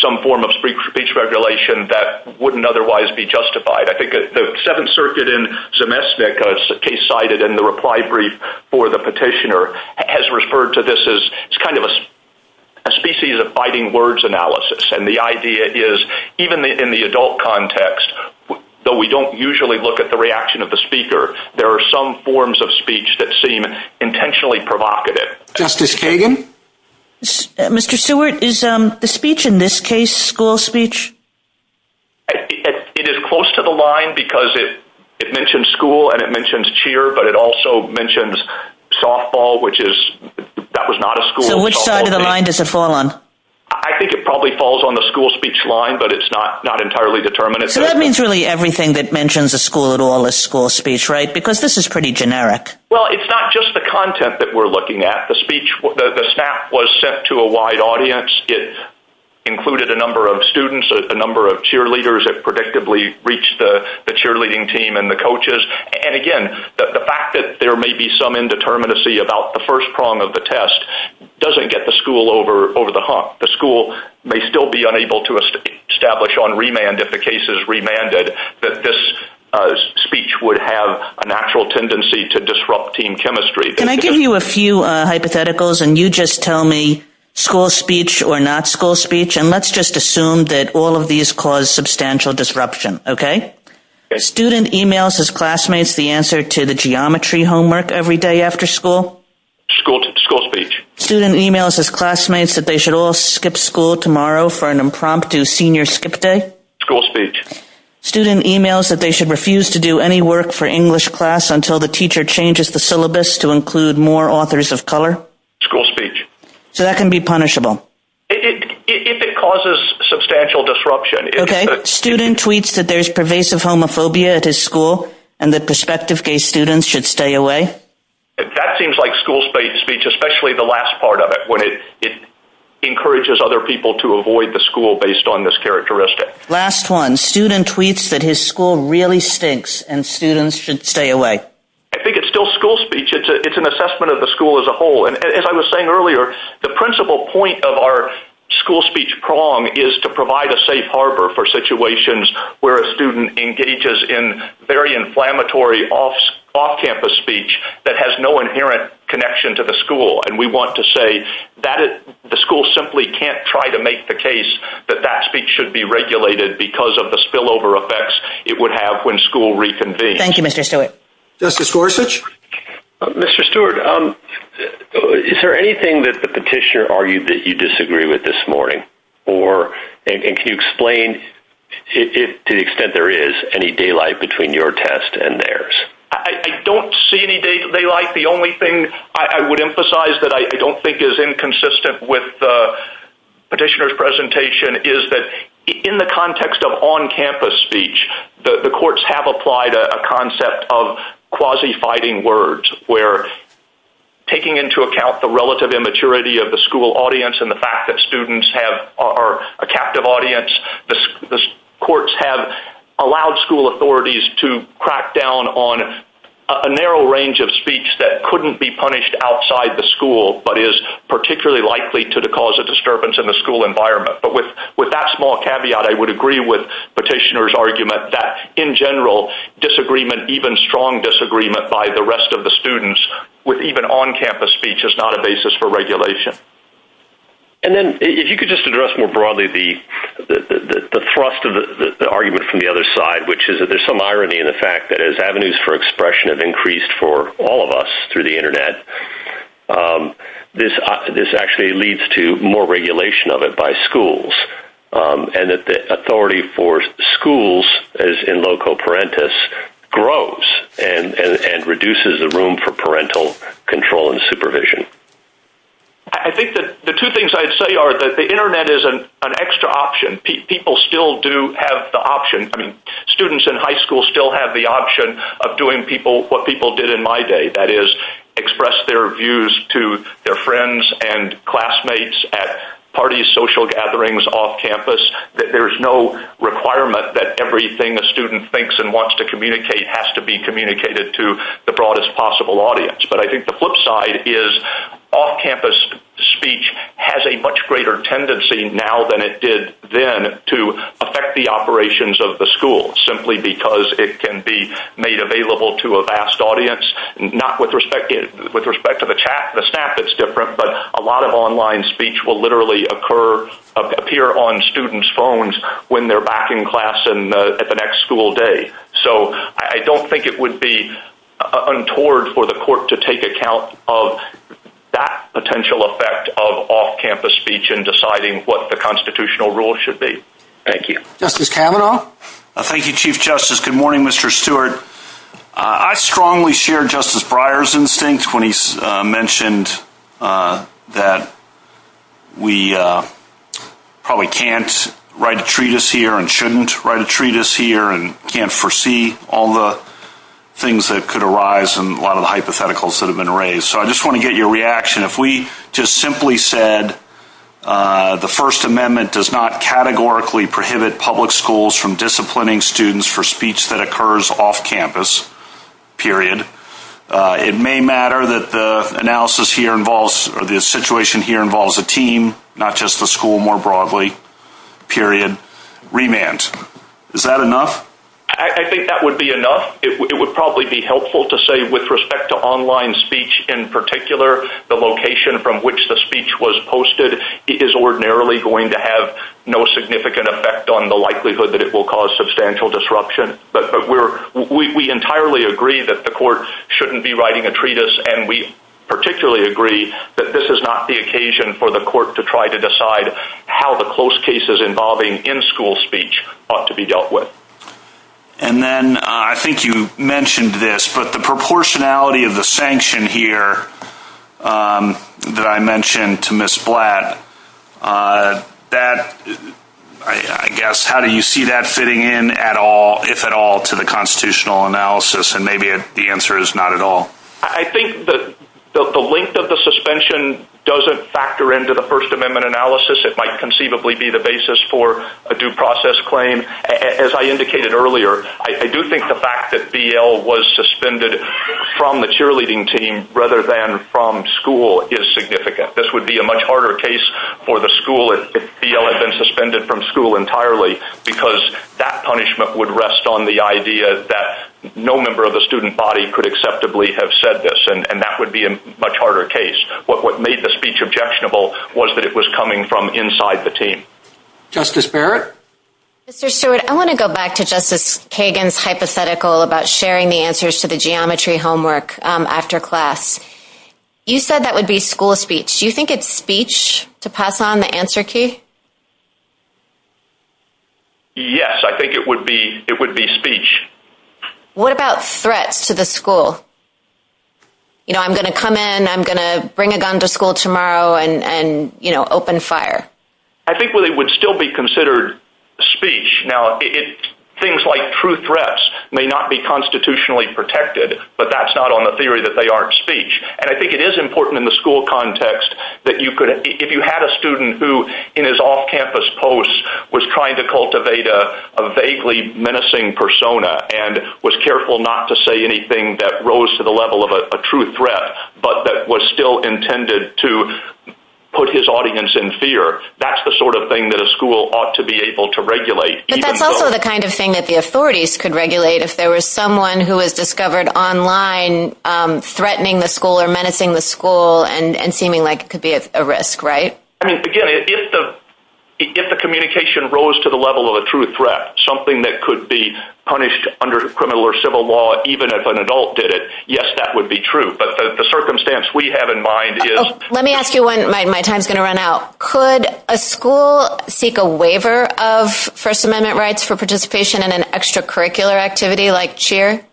some form of speech regulation that wouldn't otherwise be justified. I think the Seventh Circuit in Zemeckis case cited in the reply brief for the petitioner has referred to this as kind of a species of biting words analysis. And the idea is, even in the adult context, though we don't usually look at the reaction of the speaker, there are some forms of speech that seem intentionally provocative. Justice Kagan? Mr. Stewart, is speech in this case school speech? It is close to the line because it mentions school and it mentions cheer, but it also mentions softball, which is, that was not a school. So which side of the line does it fall on? I think it probably falls on the school speech line, but it's not entirely determined. So that means really everything that mentions a school at all is school speech, right? Because this is pretty generic. Well, it's not just the content that we're looking at. The speech, the snap was sent to a wide audience. It included a number of students, a number of cheerleaders. It predictably reached the cheerleading team and the coaches. And again, the fact that there may be some indeterminacy about the first prong of the test doesn't get the school over the hump. The school may still be unable to establish on remand, if the case is remanded, that this speech would have a natural tendency to disrupt team chemistry. Can I give you a few hypotheticals and you just tell me school speech or not school speech? And let's just assume that all of these cause substantial disruption, okay? Okay. Student emails his classmates the answer to the geometry homework every day after school. School speech. Student emails his classmates that they should all skip school tomorrow for an impromptu senior skip day. School speech. Student emails that they should refuse to do any work for English class until the teacher changes the syllabus to include more authors of color. School speech. So that can be punishable. If it causes substantial disruption. Okay. Student tweets that there's pervasive homophobia at his school and that prospective gay students should stay away. That seems like school speech, especially the last part of it, when it encourages other people to avoid the school based on this characteristic. Last one. Student tweets that his school really stinks and students should stay away. I think it's still school speech. It's an assessment of the school as a whole. And as I was saying earlier, the principal point of our school speech prong is to provide a safe harbor for situations where a student engages in very inflammatory off-campus speech that has no inherent connection to the school. And we want to say that the school simply can't try to make the case that that speech should be regulated because of the spillover effects it would have when school reconvened. Thank you, Mr. Stewart. Justice Gorsuch? Mr. Stewart, is there anything that the petitioner argued that you disagree with this morning? And can you explain to the extent there is any daylight between your test and theirs? I don't see any daylight. The only thing I would emphasize that I don't think is inconsistent with the petitioner's presentation is that in the context of on-campus speech, the courts have applied a concept of quasi-fighting words where taking into account the relative immaturity of the school audience and the fact that students are a captive audience, the courts have allowed school authorities to crack down on a narrow range of speech that couldn't be punished outside the school but is particularly likely to the cause of disturbance in the school environment. But with that small caveat, I would agree with petitioner's argument that in general, disagreement, even strong disagreement by the rest of the students, even on-campus speech is not a basis for regulation. And then if you could just address more broadly the thrust of the argument from the other side, which is that there's some irony in the fact that as avenues for expression have increased for all of us through the internet, this actually leads to more regulation of it by schools and that the authority for schools as in loco parentis grows and reduces the room for parental control and supervision. I think that the two things I'd say are that the internet is an extra option. People still do have the option. Students in high school still have the option of doing what people did in my day, that is express their views to their friends and classmates at parties, social gatherings, off-campus. There's no requirement that everything a student thinks and wants to communicate has to be communicated to the broadest possible audience. But I think the flip side is off-campus speech has a much greater tendency now than it did then to affect the operations of the school simply because it can be made available to a vast audience, not with respect to the chat, the staff, it's different, but a lot of online speech will literally appear on students' phones when they're back in class in the next school day. So I don't think it would be untoward for the court to take account of that potential effect of off-campus speech in deciding what the constitutional rules should be. Thank you. Justice Kavanaugh? Thank you, Chief Justice. Good morning, Mr. Stewart. I strongly share Justice Breyer's instinct when he mentioned that we probably can't write a treatise here and shouldn't write a treatise here and can't foresee all the things that could arise and a lot of the hypotheticals that have been raised. So I just want to get your reaction. If we just simply said the First Amendment does not categorically prohibit public schools from disciplining students for speech that occurs off-campus, period, it may matter that the analysis here involves or the situation here involves a team, not just the school more broadly, period, remand. Is that enough? I think that would be enough. It would probably be helpful to say with respect to online speech in particular, the location from which the speech was posted is ordinarily going to have no significant effect on the likelihood that it will cause substantial disruption. But we entirely agree that the court shouldn't be writing a treatise, and we particularly agree that this is not the occasion for the court to try to decide how the close cases involving in-school speech ought to be dealt with. And then I think you mentioned this, but the proportionality of the sanction here that I mentioned to Ms. Blatt, I guess, how do you see that fitting in at all, if at all, to the constitutional analysis? And maybe the answer is not at all. I think the length of the suspension doesn't factor into the First Amendment analysis. It might conceivably be the basis for a due process claim. As I indicated earlier, I do think the fact that BL was suspended from the cheerleading team rather than from school is significant. This would be a much harder case for the school if BL had been suspended from school entirely because that punishment would rest on the idea that no member of the student body could acceptably have said this, and that would be a much harder case. What made the speech objectionable was that it was coming from inside the team. Justice Barrett? Mr. Stewart, I want to go back to Justice Kagan's hypothetical about sharing the answers to the geometry homework after class. You said that would be school speech. Do you think it's speech to pass on the answer key? Yes, I think it would be speech. What about threats to the school? You know, I'm going to come in, I'm going to bring a gun to school tomorrow and open fire. I think it would still be considered speech. Things like true threats may not be constitutionally protected, but that's not on the theory that they aren't speech. I think it is important in the school context that if you had a student who, in his off-campus post, was trying to cultivate a vaguely menacing persona and was careful not to say anything that rose to the level of a true threat, but that was still intended to put his audience in fear, that's the sort of thing that a school ought to be able to regulate. But that's also the kind of thing that the authorities could regulate if there was someone who was discovered online threatening the school or menacing the school and seeming like it could be a risk, right? Again, if the communication rose to the level of a true threat, something that could be punished under criminal or civil law, even if an adult did it, yes, that would be true. But the circumstance we have in mind is... Let me ask you when my time is going to run out. Could a school seek a waiver of First Amendment rights for participation in an extracurricular activity like cheer?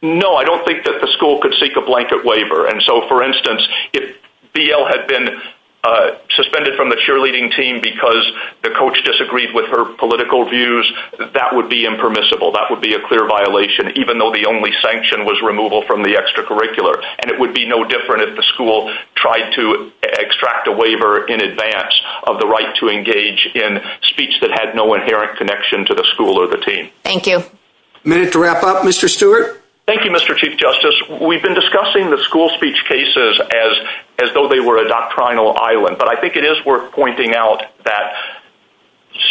No, I don't think that the school could seek a blanket waiver. For instance, if BL had been suspended from the cheerleading team because the coach disagreed with her political views, that would be impermissible. That would be a clear violation, even though the only sanction was removal from the extracurricular. And it would be no different if the school tried to extract a waiver in advance of the right to engage in speech that had no inherent connection to the school or the team. Thank you. A minute to wrap up. Mr. Stewart? Thank you, Mr. Chief Justice. We've been discussing the school speech cases as though they were a doctrinal island. But I think it is worth pointing out that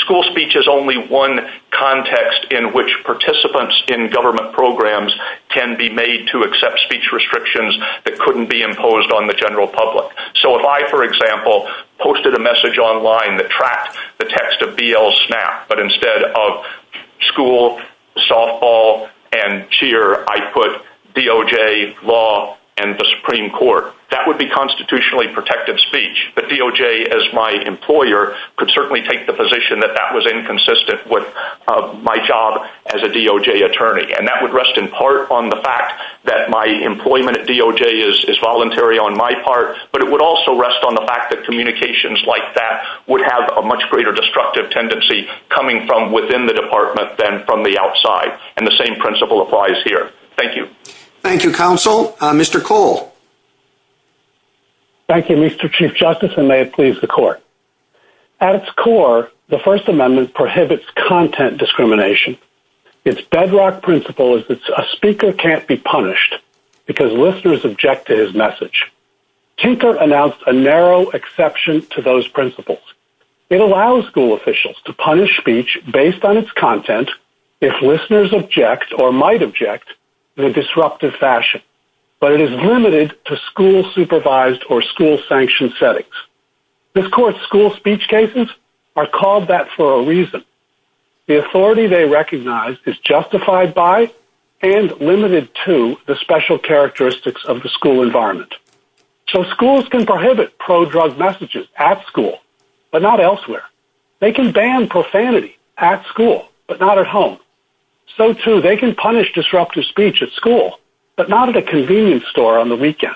school speech is only one context in which participants in government programs can be made to accept speech restrictions that couldn't be imposed on the general public. So if I, for example, posted a message online that tracked the text of BL's snap, but instead of school, softball, and cheer, I put DOJ, law, and the Supreme Court, that would be constitutionally protective speech. But DOJ, as my employer, could certainly take the position that that was inconsistent with my job as a DOJ attorney. And that would rest in part on the fact that my employment at DOJ is voluntary on my part, but it would also rest on the fact that communications like that would have a much greater destructive tendency coming from within the department than from the outside. And the same principle applies here. Thank you. Thank you, counsel. Mr. Cole? Thank you, Mr. Chief Justice, and may it please the Court. At its core, the First Amendment prohibits content discrimination. Its bedrock principle is that a speaker can't be punished because listeners object to his message. Tinker announced a narrow exception to those principles. It allows school officials to punish speech based on its content if listeners object or might object in a disruptive fashion, but it is limited to school-supervised or school-sanctioned settings. This Court's school speech cases are called that for a reason. The authority they recognize is justified by and limited to the special characteristics of the school environment. So schools can prohibit pro-drug messages at school, but not elsewhere. They can ban profanity at school, but not at home. So, too, they can punish disruptive speech at school, but not at a convenience store on the weekend.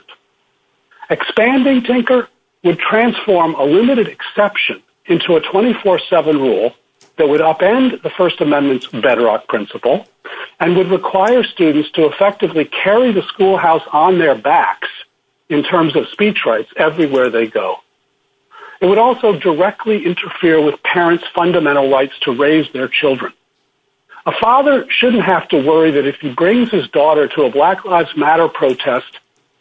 Expanding Tinker would transform a limited exception into a 24-7 rule that would upend the First Amendment's bedrock principle and would require students to effectively carry the schoolhouse on their backs in terms of speech rights everywhere they go. It would also directly interfere with parents' fundamental rights to raise their children. A father shouldn't have to worry that if he brings his daughter to a Black Lives Matter protest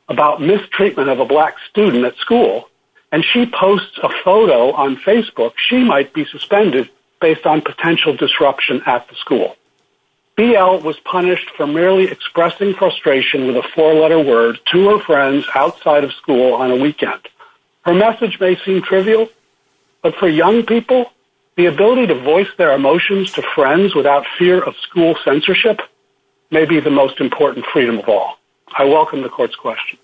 about mistreatment of a black student at school and she posts a photo on Facebook, she might be suspended based on potential disruption at the school. BL was punished for merely expressing frustration with a four-letter word to her friends outside of school on a weekend. Her message may seem trivial, but for young people, the ability to voice their emotions to friends without fear of school censorship may be the most important freedom of all. I welcome the Court's questions.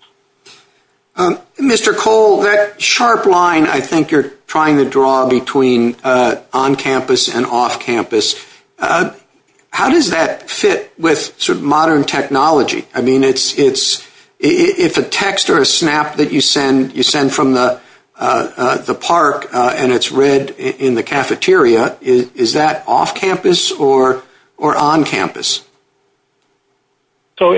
Mr. Cole, that sharp line I think you're trying to draw between on-campus and off-campus, how does that fit with modern technology? I mean, if the text or a snap that you send from the park and it's read in the cafeteria, is that off-campus or on-campus? So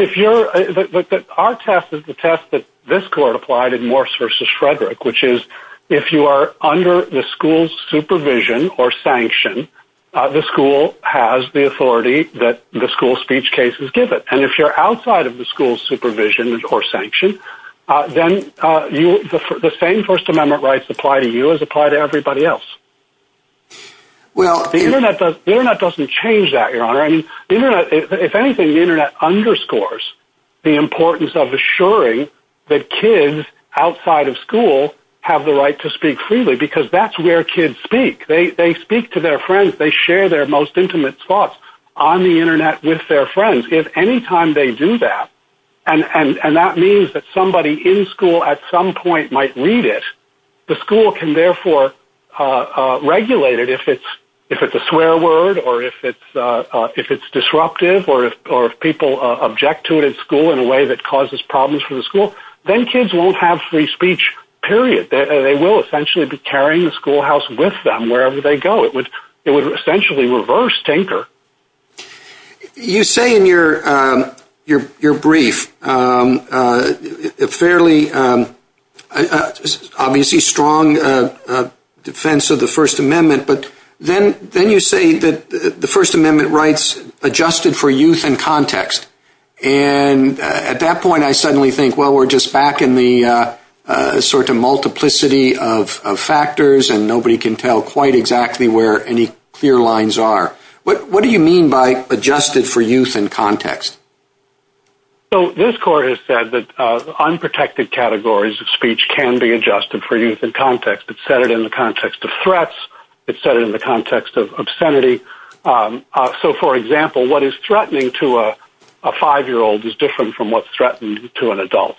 our test is the test that this Court applied in Morse v. Frederick, which is if you are under the school's supervision or sanction, the school has the authority that the school's speech cases give it. And if you're outside of the school's supervision or sanction, then the same First Amendment rights apply to you as apply to everybody else. The Internet doesn't change that, Your Honor. If anything, the Internet underscores the importance of assuring that kids outside of school have the right to speak freely because that's where kids speak. They speak to their friends. They share their most intimate thoughts on the Internet with their friends. If any time they do that, and that means that somebody in school at some point might read it, the school can therefore regulate it if it's a swear word or if it's disruptive or if people object to it in school in a way that causes problems for the school, then kids won't have free speech, period. They will essentially be carrying the schoolhouse with them wherever they go. It would essentially reverse tinker. You say in your brief a fairly obviously strong defense of the First Amendment, but then you say that the First Amendment rights adjusted for youth and context, and at that point I suddenly think, well, we're just back in the multiplicity of factors and nobody can tell quite exactly where any clear lines are. What do you mean by adjusted for youth and context? This Court has said that unprotected categories of speech can be adjusted for youth and context. It said it in the context of threats. It said it in the context of obscenity. So, for example, what is threatening to a 5-year-old is different from what's threatening to an adult.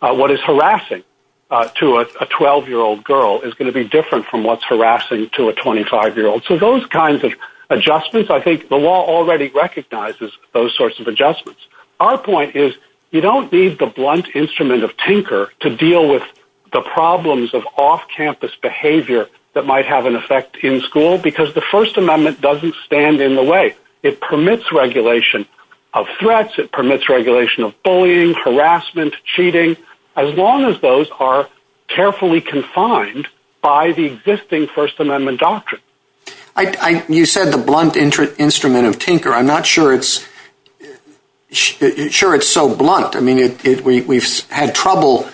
What is harassing to a 12-year-old girl is going to be different from what's harassing to a 25-year-old. So those kinds of adjustments, I think the law already recognizes those sorts of adjustments. Our point is you don't need the blunt instrument of tinker to deal with the problems of off-campus behavior that might have an effect in school because the First Amendment doesn't stand in the way. It permits regulation of threats. It permits regulation of bullying, harassment, cheating, as long as those are carefully confined by the existing First Amendment doctrine. You said the blunt instrument of tinker. I'm not sure it's so blunt. I mean, we've had trouble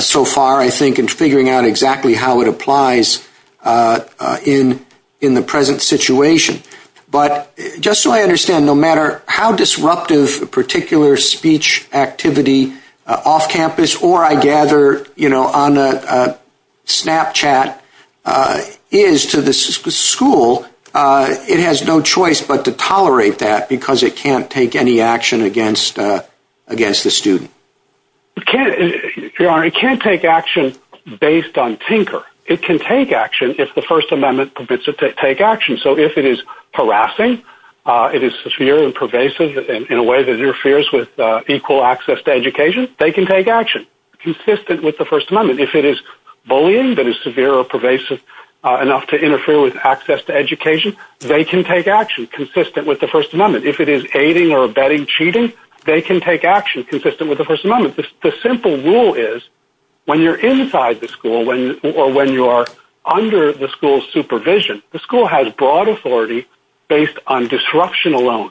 so far, I think, in figuring out exactly how it applies in the present situation. But just so I understand, no matter how disruptive a particular speech activity off-campus or, I gather, you know, on Snapchat is to the school, it has no choice but to tolerate that because it can't take any action against the student. Your Honor, it can't take action based on tinker. It can take action if the First Amendment permits it to take action. So if it is harassing, it is severe and pervasive in a way that interferes with equal access to education, they can take action consistent with the First Amendment. If it is bullying that is severe or pervasive enough to interfere with access to education, they can take action consistent with the First Amendment. If it is aiding or abetting cheating, they can take action consistent with the First Amendment. The simple rule is when you're inside the school or when you're under the school's supervision, the school has broad authority based on disruption alone.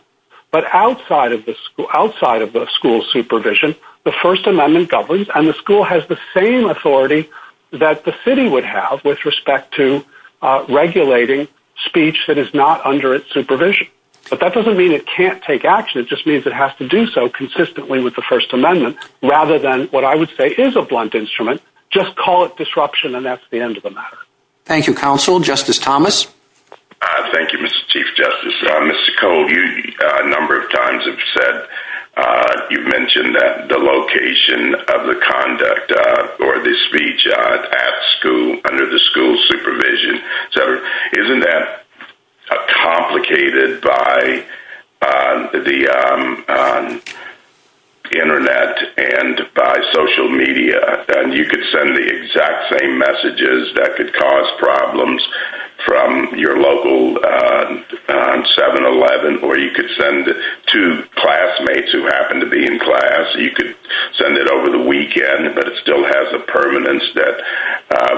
But outside of the school's supervision, the First Amendment governs and the school has the same authority that the city would have with respect to regulating speech that is not under its supervision. But that doesn't mean it can't take action. It just means it has to do so consistently with the First Amendment rather than what I would say is a blunt instrument. Just call it disruption and that's the end of the matter. Thank you, Counsel. Justice Thomas? Thank you, Mr. Chief Justice. Mr. Cole, you a number of times have said, you mentioned that the location of the conduct or the speech at school, under the school's supervision. Isn't that complicated by the Internet and by social media? You could send the exact same messages that could cause problems from your local 7-Eleven, or you could send it to classmates who happen to be in class. You could send it over the weekend, but it still has a permanence that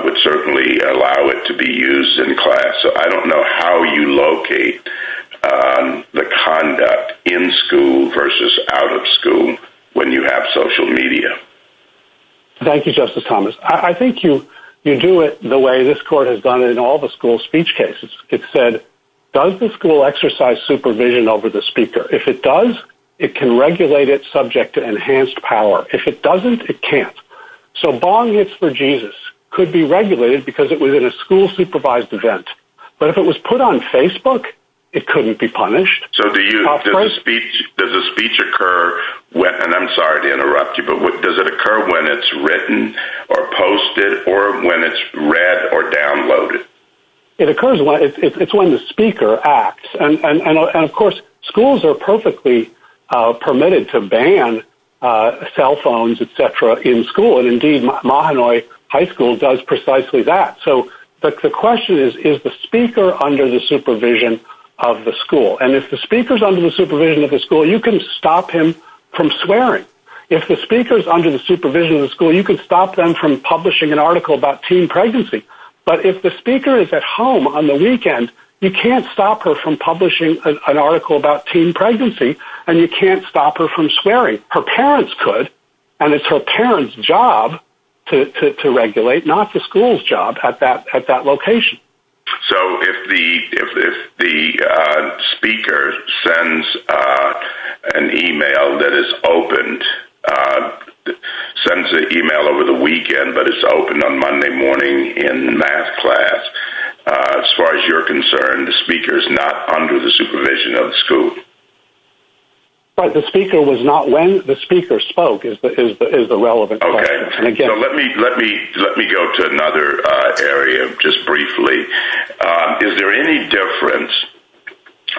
would certainly allow it to be used in class. I don't know how you locate the conduct in school versus out of school when you have social media. Thank you, Justice Thomas. I think you do it the way this Court has done in all the school speech cases. It said, does the school exercise supervision over the speaker? If it does, it can regulate its subject to enhanced power. If it doesn't, it can't. So, bong hits for Jesus could be regulated because it was at a school-supervised event. But if it was put on Facebook, it couldn't be punished. So, does the speech occur, and I'm sorry to interrupt you, but does it occur when it's written or posted or when it's read or downloaded? It occurs when the speaker acts. And, of course, schools are perfectly permitted to ban cell phones, et cetera, in school, and, indeed, Mahanoy High School does precisely that. But the question is, is the speaker under the supervision of the school? And if the speaker is under the supervision of the school, you can stop him from swearing. If the speaker is under the supervision of the school, you can stop them from publishing an article about teen pregnancy. But if the speaker is at home on the weekend, you can't stop her from publishing an article about teen pregnancy, and you can't stop her from swearing. Her parents could, and it's her parents' job to regulate, not the school's job at that location. So, if the speaker sends an email that is opened, sends an email over the weekend, but it's opened on Monday morning in math class, as far as you're concerned, the speaker is not under the supervision of the school? Right. The speaker was not when the speaker spoke is the relevant question. Okay. So, let me go to another area just briefly. Is there any difference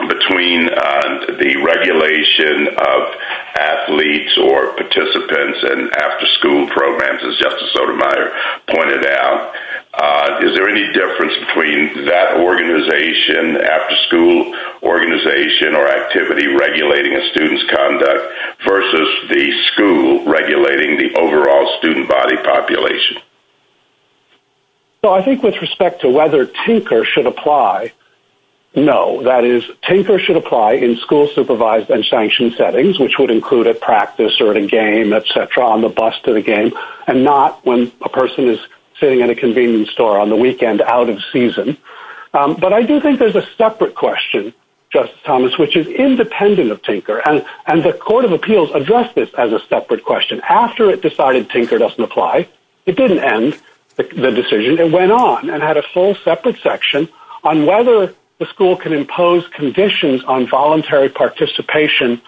between the regulation of athletes or participants and after-school programs, as Justice Sotomayor pointed out? Is there any difference between that organization, the after-school organization or activity regulating a student's conduct versus the school regulating the overall student body population? Well, I think with respect to whether Tinker should apply, no. That is, Tinker should apply in school-supervised and sanctioned settings, which would include at practice or at a game, et cetera, on the bus to the game, and not when a person is sitting in a convenience store on the weekend out of season. But I do think there's a separate question, Justice Thomas, which is independent of Tinker, and the Court of Appeals addressed this as a separate question. After it decided Tinker doesn't apply, it didn't end the decision. It went on and had a whole separate section on whether the school can impose conditions on voluntary participation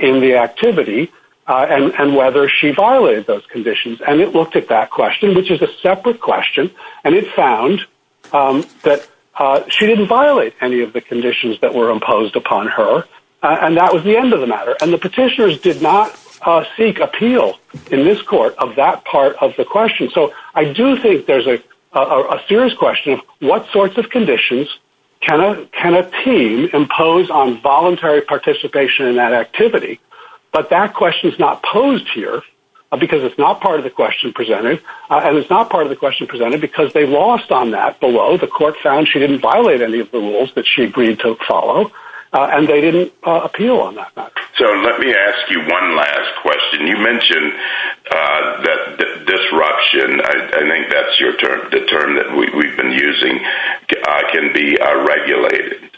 in the activity and whether she violated those conditions, and it looked at that question, which is a separate question, and it found that she didn't violate any of the conditions that were imposed upon her, and that was the end of the matter. And the petitioners did not seek appeal in this court of that part of the question. So I do think there's a serious question of what sorts of conditions can a team impose on voluntary participation in that activity, but that question is not posed here because it's not part of the question presented, and it's not part of the question presented because they lost on that below. The court found she didn't violate any of the rules that she agreed to follow, and they didn't appeal on that matter. So let me ask you one last question. You mentioned disruption. I think that's the term that we've been using, can be regulated.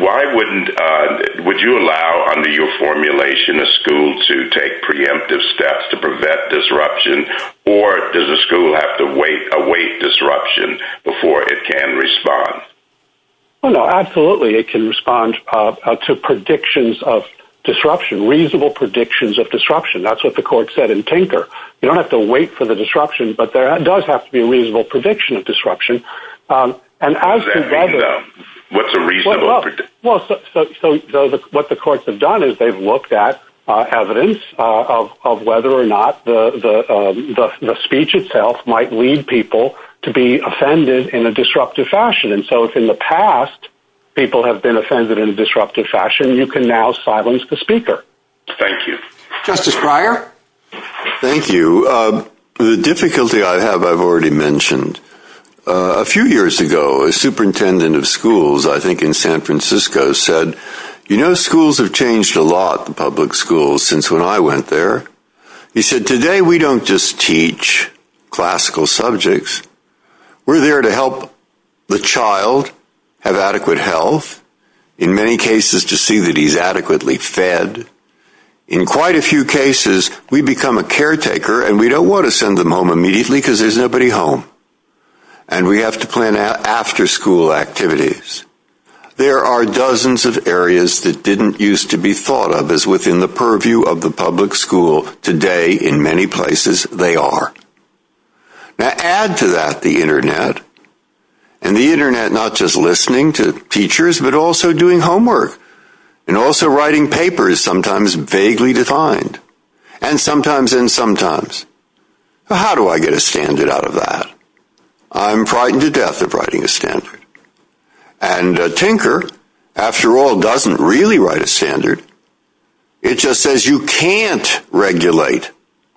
Why wouldn't you allow, under your formulation, a school to take preemptive steps to prevent disruption, or does a school have to wait, await disruption before it can respond? Absolutely, it can respond to predictions of disruption, reasonable predictions of disruption. That's what the court said in Tinker. You don't have to wait for the disruption, but there does have to be a reasonable prediction of disruption. What's a reasonable prediction? What the courts have done is they've looked at evidence of whether or not the speech itself might lead people to be offended in a disruptive fashion, and so if in the past people have been offended in a disruptive fashion, you can now silence the speaker. Thank you. Justice Breyer? Thank you. The difficulty I have, I've already mentioned. A few years ago, a superintendent of schools, I think in San Francisco, said, you know, schools have changed a lot, the public schools, since when I went there. He said, today we don't just teach classical subjects. We're there to help the child have adequate health, in many cases to see that he's adequately fed. In quite a few cases, we become a caretaker, and we don't want to send them home immediately because there's nobody home, and we have to plan after-school activities. There are dozens of areas that didn't used to be thought of as within the purview of the public school. Today, in many places, they are. Now, add to that the Internet, and the Internet not just listening to teachers, but also doing homework, and also writing papers, sometimes vaguely defined, and sometimes in sometimes. How do I get a standard out of that? I'm frightened to death of writing a standard. And Tinker, after all, doesn't really write a standard. It just says you can't regulate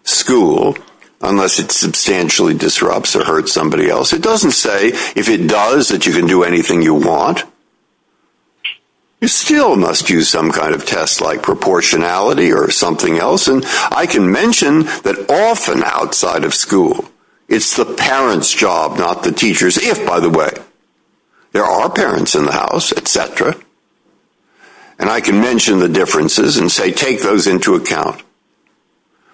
school unless it substantially disrupts or hurts somebody else. It doesn't say, if it does, that you can do anything you want. You still must use some kind of test like proportionality or something else. And I can mention that often outside of school, it's the parent's job, not the teacher's, if, by the way, there are parents in the house, et cetera. And I can mention the differences and say, take those into account.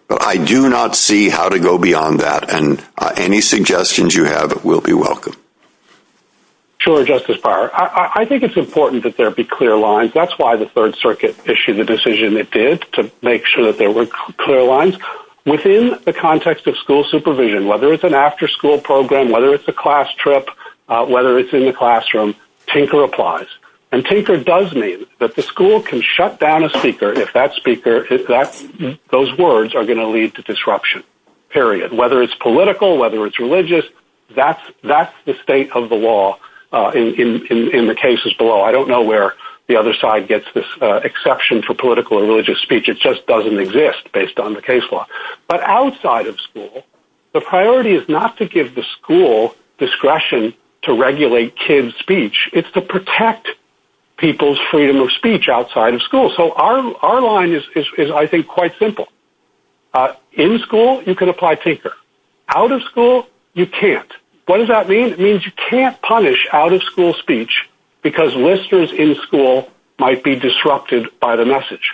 But I do not see how to go beyond that, and any suggestions you have will be welcome. Sure, Justice Breyer. I think it's important that there be clear lines. That's why the Third Circuit issued the decision it did, to make sure that there were clear lines. Within the context of school supervision, whether it's an after-school program, whether it's a class trip, whether it's in the classroom, Tinker applies. And Tinker does mean that the school can shut down a speaker if those words are going to lead to disruption, period. Whether it's political, whether it's religious, that's the state of the law in the cases below. I don't know where the other side gets this exception for political or religious speech. It just doesn't exist based on the case law. But outside of school, the priority is not to give the school discretion to regulate kids' speech. It's to protect people's freedom of speech outside of school. So our line is, I think, quite simple. In school, you can apply Tinker. Out of school, you can't. What does that mean? It means you can't punish out-of-school speech because listeners in school might be disrupted by the message.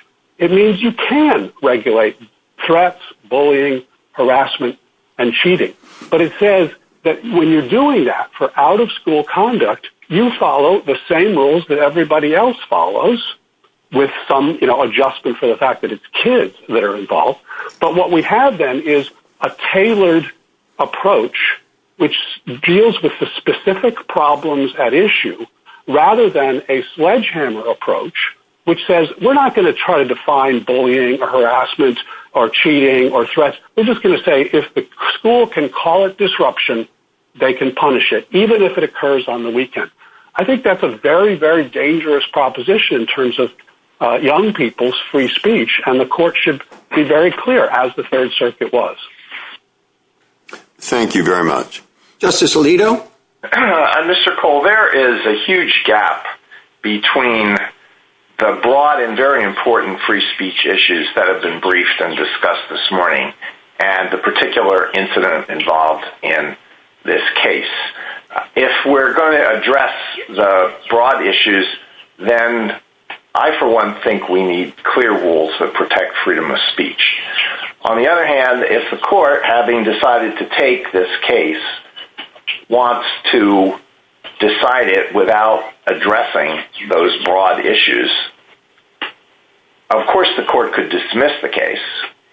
But it says that when you're doing that for out-of-school conduct, you follow the same rules that everybody else follows, with some adjustment for the fact that it's kids that are involved. But what we have then is a tailored approach, which deals with the specific problems at issue, rather than a sledgehammer approach, which says we're not going to try to define bullying or harassment or cheating or threats. We're just going to say if the school can call it disruption, they can punish it, even if it occurs on the weekend. I think that's a very, very dangerous proposition in terms of young people's free speech, and the court should be very clear, as the Third Circuit was. Thank you very much. Justice Alito? Mr. Cole, there is a huge gap between the broad and very important free speech issues that have been briefed and discussed this morning and the particular incident involved in this case. If we're going to address the broad issues, then I, for one, think we need clear rules that protect freedom of speech. On the other hand, if the court, having decided to take this case, wants to decide it without addressing those broad issues, of course the court could dismiss the case,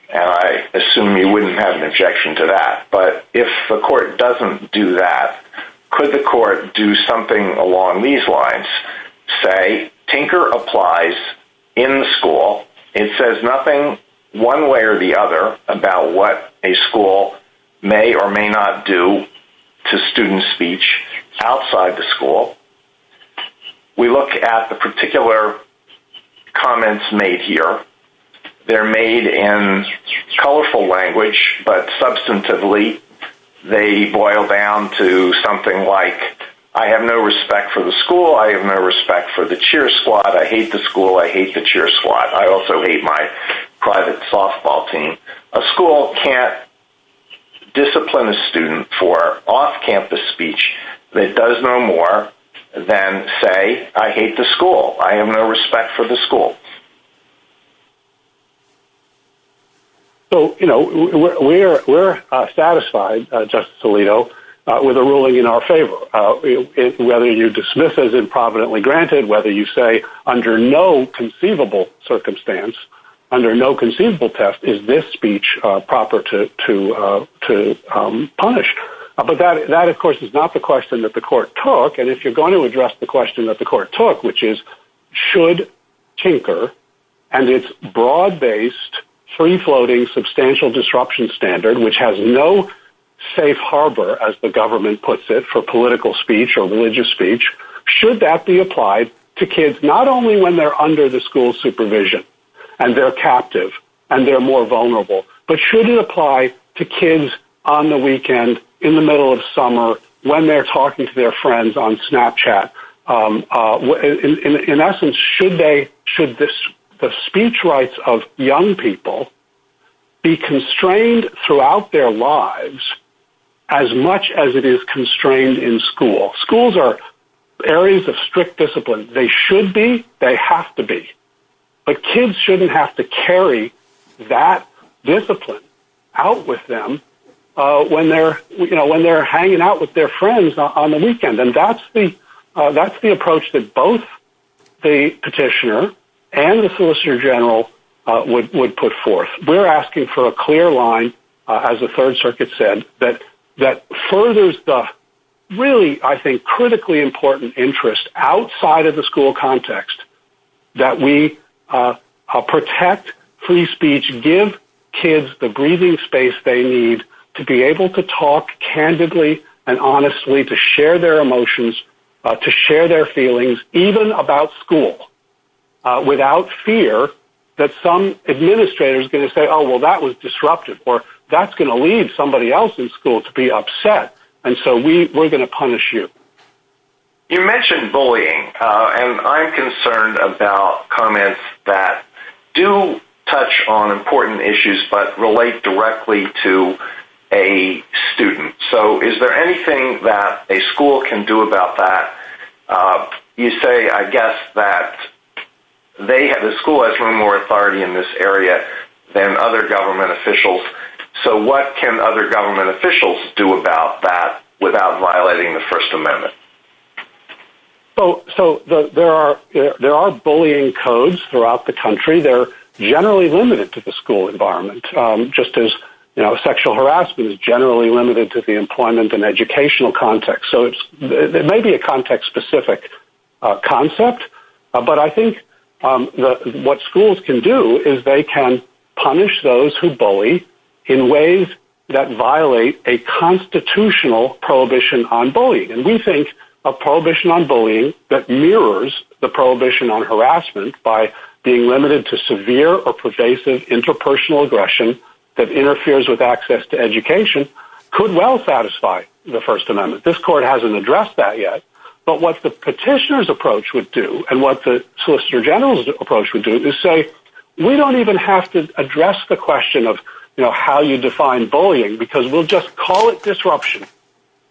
and I assume you wouldn't have an objection to that. But if the court doesn't do that, could the court do something along these lines? Well, let me just say, Tinker applies in the school. It says nothing one way or the other about what a school may or may not do to student speech outside the school. We look at the particular comments made here. They're made in colorful language, but substantively they boil down to something like, I have no respect for the school, I have no respect for the cheer squad, I hate the school, I hate the cheer squad, I also hate my private softball team. A school can't discipline a student for off-campus speech that does no more than say, I hate the school, I have no respect for the school. So, you know, we're satisfied, Justice Alito, with a ruling in our favor. Whether you dismiss as improvidently granted, whether you say under no conceivable circumstance, under no conceivable test, is this speech proper to punish. But that, of course, is not the question that the court took. And if you're going to address the question that the court took, which is, should Tinker and its broad-based, free-floating, substantial disruption standard, which has no safe harbor, as the government puts it, for political speech or religious speech, should that be applied to kids not only when they're under the school's supervision, and they're captive, and they're more vulnerable, but should it apply to kids on the weekend, in the middle of summer, when they're talking to their friends on Snapchat? In essence, should the speech rights of young people be constrained throughout their lives as much as it is constrained in school? Schools are areas of strict discipline. They should be, they have to be. But kids shouldn't have to carry that discipline out with them when they're hanging out with their friends on the weekend. And that's the approach that both the petitioner and the solicitor general would put forth. We're asking for a clear line, as the Third Circuit said, that furthers the really, I think, critically important interest outside of the school context that we protect free speech, give kids the breathing space they need to be able to talk candidly and honestly, to share their emotions, to share their feelings, even about school, without fear that some administrator is going to say, oh, well, that was disruptive, or that's going to leave somebody else in school to be upset. And so we're going to punish you. You mentioned bullying, and I'm concerned about comments that do touch on important issues but relate directly to a student. So is there anything that a school can do about that? You say, I guess, that the school has more authority in this area than other government officials. So what can other government officials do about that without violating the First Amendment? So there are bullying codes throughout the country. They're generally limited to the school environment, just as sexual harassment is generally limited to the employment and educational context. So it may be a context-specific concept, but I think what schools can do is they can punish those who bully in ways that violate a constitutional prohibition on bullying. And we think a prohibition on bullying that mirrors the prohibition on harassment by being limited to severe or pervasive interpersonal aggression that interferes with access to education could well satisfy the First Amendment. This court hasn't addressed that yet. But what the petitioner's approach would do and what the solicitor general's approach would do is say we don't even have to address the question of how you define bullying because we'll just call it disruption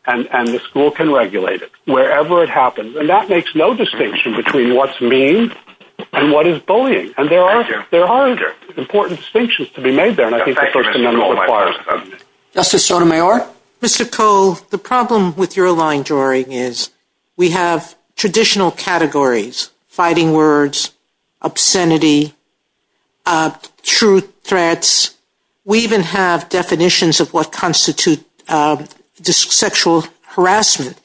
and the school can regulate it wherever it happens. And that makes no distinction between what's mean and what is bullying. And there are important distinctions to be made there, and I think the First Amendment requires them. Justice Sotomayor? Mr. Koh, the problem with your line drawing is we have traditional categories, fighting words, obscenity, truth threats. We even have definitions of what constitutes sexual harassment.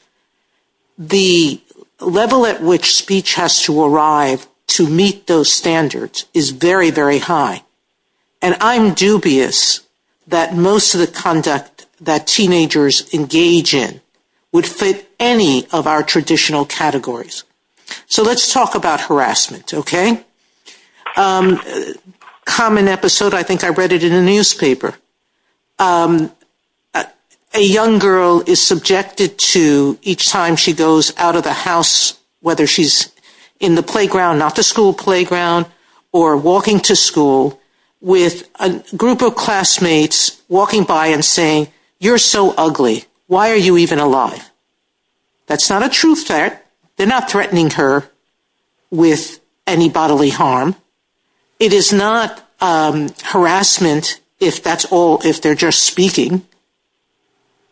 The level at which speech has to arrive to meet those standards is very, very high. And I'm dubious that most of the conduct that teenagers engage in would fit any of our traditional categories. So let's talk about harassment, okay? Common episode, I think I read it in the newspaper. A young girl is subjected to each time she goes out of the house, whether she's in the playground, not the school playground, or walking to school, with a group of classmates walking by and saying, you're so ugly. Why are you even alive? That's not a truth threat. They're not threatening her with any bodily harm. It is not harassment if that's all, if they're just speaking.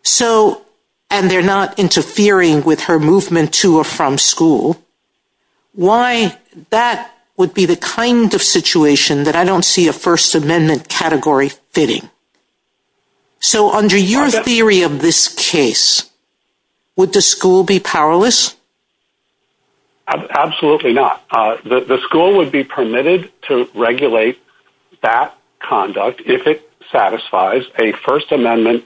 So, and they're not interfering with her movement to or from school. Why, that would be the kind of situation that I don't see a First Amendment category fitting. So under your theory of this case, would the school be powerless? Absolutely not. The school would be permitted to regulate that conduct if it satisfies a First Amendment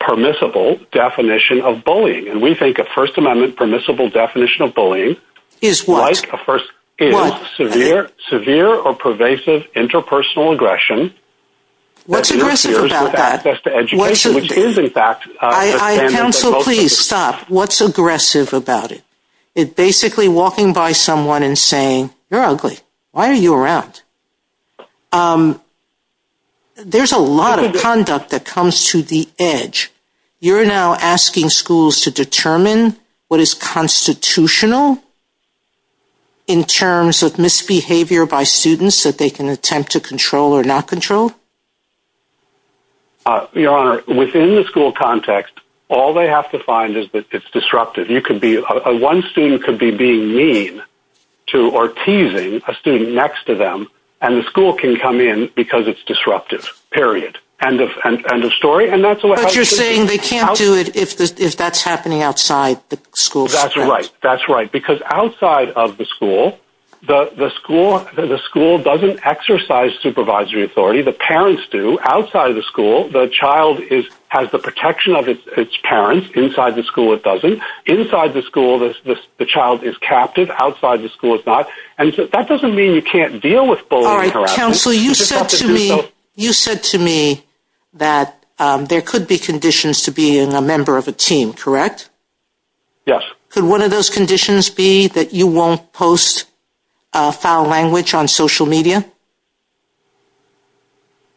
permissible definition of bullying. And we think a First Amendment permissible definition of bullying is severe or pervasive interpersonal aggression. What's aggressive about that? Access to education, which is in fact- Counsel, please stop. What's aggressive about it? It's basically walking by someone and saying, you're ugly. Why are you around? There's a lot of conduct that comes to the edge. You're now asking schools to determine what is constitutional in terms of misbehavior by students that they can attempt to control or not control? Your Honor, within the school context, all they have to find is that it's disruptive. One student could be being mean or teasing a student next to them, and the school can come in because it's disruptive, period. End of story. But you're saying they can't do it if that's happening outside the school context. That's right. Because outside of the school, the school doesn't exercise supervisory authority. The parents do. Outside of the school, the child has the protection of its parents. Inside the school, it doesn't. Inside the school, the child is captive. Outside the school, it's not. That doesn't mean you can't deal with bullying. Counsel, you said to me that there could be conditions to being a member of a team, correct? Yes. Could one of those conditions be that you won't post foul language on social media?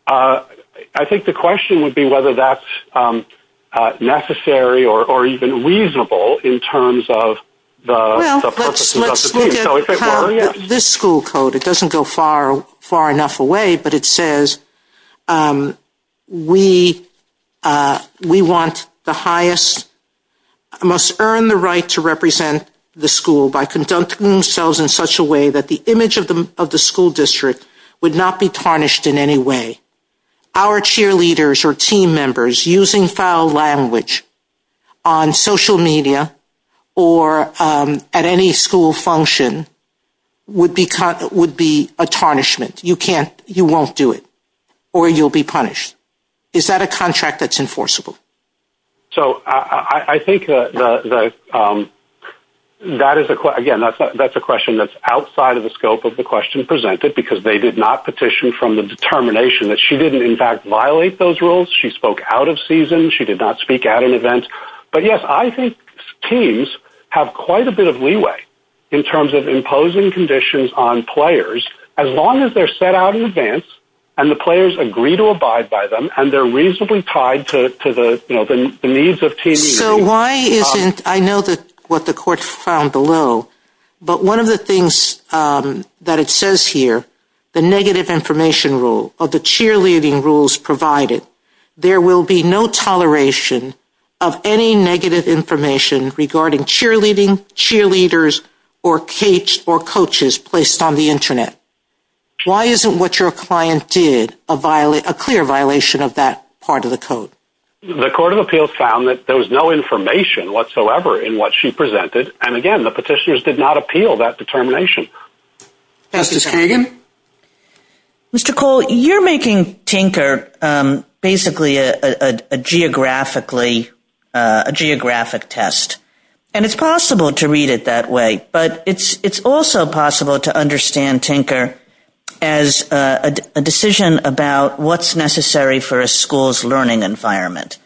I think the question would be whether that's necessary or even reasonable in terms of the purposes of the team. Well, let's look at this school code. It doesn't go far enough away, but it says we want the highest – must earn the right to represent the school by conducting themselves in such a way that the image of the school district is would not be tarnished in any way. Our cheerleaders or team members using foul language on social media or at any school function would be a tarnishment. You won't do it or you'll be punished. Is that a contract that's enforceable? I think that's a question that's outside of the scope of the question presented because they did not petition from the determination that she didn't in fact violate those rules. She spoke out of season. She did not speak at an event. But yes, I think teams have quite a bit of leeway in terms of imposing conditions on players. As long as they're set out in advance and the players agree to abide by them and they're reasonably tied to the needs of teams. So why isn't – I know what the court found below, but one of the things that it says here, the negative information rule of the cheerleading rules provided, there will be no toleration of any negative information regarding cheerleading, cheerleaders, or capes or coaches placed on the internet. Why isn't what your client did a clear violation of that part of the code? The court of appeals found that there was no information whatsoever in what she presented. And again, the petitioners did not appeal that determination. Justice Kagan? Mr. Cole, you're making Tinker basically a geographic test. And it's possible to read it that way. But it's also possible to understand Tinker as a decision about what's necessary for a school's learning environment.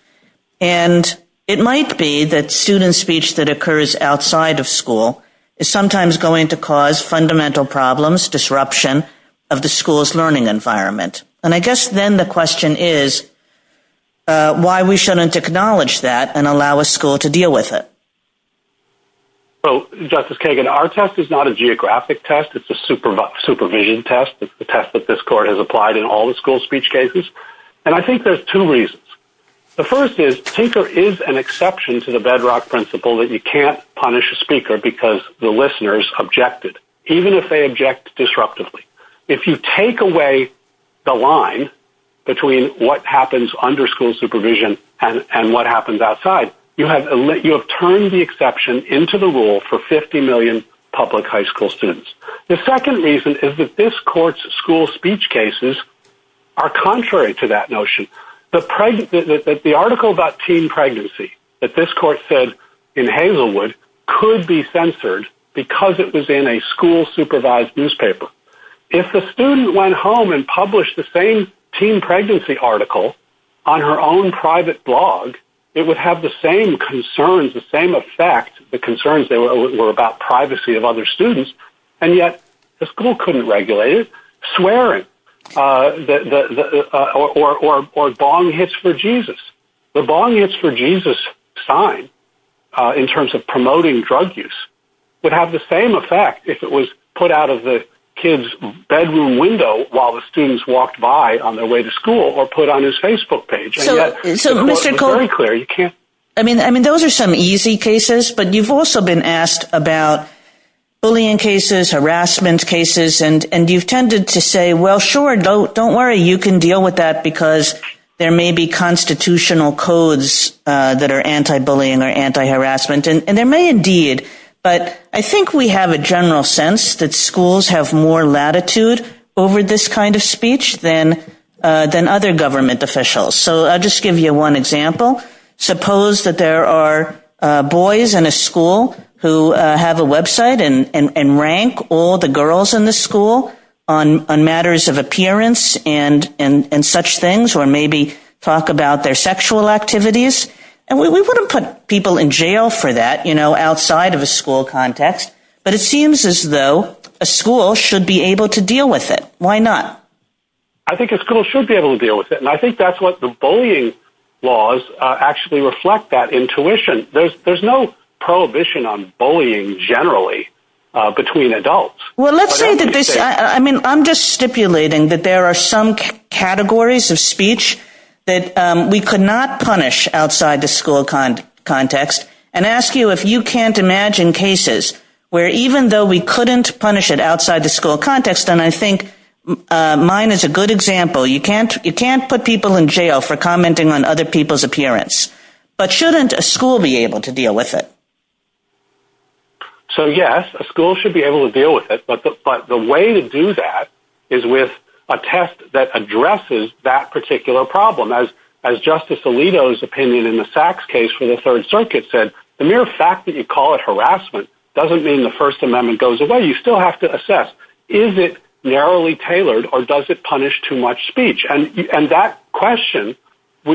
And it might be that student speech that occurs outside of school is sometimes going to cause fundamental problems, disruption of the school's learning environment. And I guess then the question is why we shouldn't acknowledge that and allow a school to deal with it. Well, Justice Kagan, our test is not a geographic test. It's a supervision test. It's the test that this court has applied in all the school speech cases. And I think there's two reasons. The first is Tinker is an exception to the bedrock principle that you can't punish a speaker because the listeners objected, even if they object disruptively. If you take away the line between what happens under school supervision and what happens outside, you have turned the exception into the rule for 50 million public high school students. The second reason is that this court's school speech cases are contrary to that notion. The article about teen pregnancy that this court said in Hazelwood could be censored because it was in a school-supervised newspaper. If the student went home and published the same teen pregnancy article on her own private blog, it would have the same concerns, the same effect, the concerns that were about privacy of other students. And yet the school couldn't regulate it, swearing or bong hits for Jesus. The bong hits for Jesus sign in terms of promoting drug use would have the same effect if it was put out of the kid's bedroom window while the students walked by on their way to school or put on his Facebook page. Those are some easy cases, but you've also been asked about bullying cases, harassment cases, and you've tended to say, well, sure, don't worry. You can deal with that because there may be constitutional codes that are anti-bullying or anti-harassment. And there may indeed, but I think we have a general sense that schools have more latitude over this kind of speech than other government officials. So I'll just give you one example. Suppose that there are boys in a school who have a website and rank all the girls in the school on matters of appearance and such things, or maybe talk about their sexual activities. And we wouldn't put people in jail for that outside of a school context, but it seems as though a school should be able to deal with it. Why not? I think a school should be able to deal with it, and I think that's what the bullying laws actually reflect, that intuition. There's no prohibition on bullying generally between adults. I'm just stipulating that there are some categories of speech that we could not punish outside the school context and ask you if you can't imagine cases where even though we couldn't punish it outside the school context, and I think mine is a good example. You can't put people in jail for commenting on other people's appearance, but shouldn't a school be able to deal with it? So yes, a school should be able to deal with it, but the way to do that is with a test that addresses that particular problem. As Justice Alito's opinion in the Sachs case for the Third Circuit said, the mere fact that you call it harassment doesn't mean the First Amendment goes away. You still have to assess, is it narrowly tailored or does it punish too much speech? And that question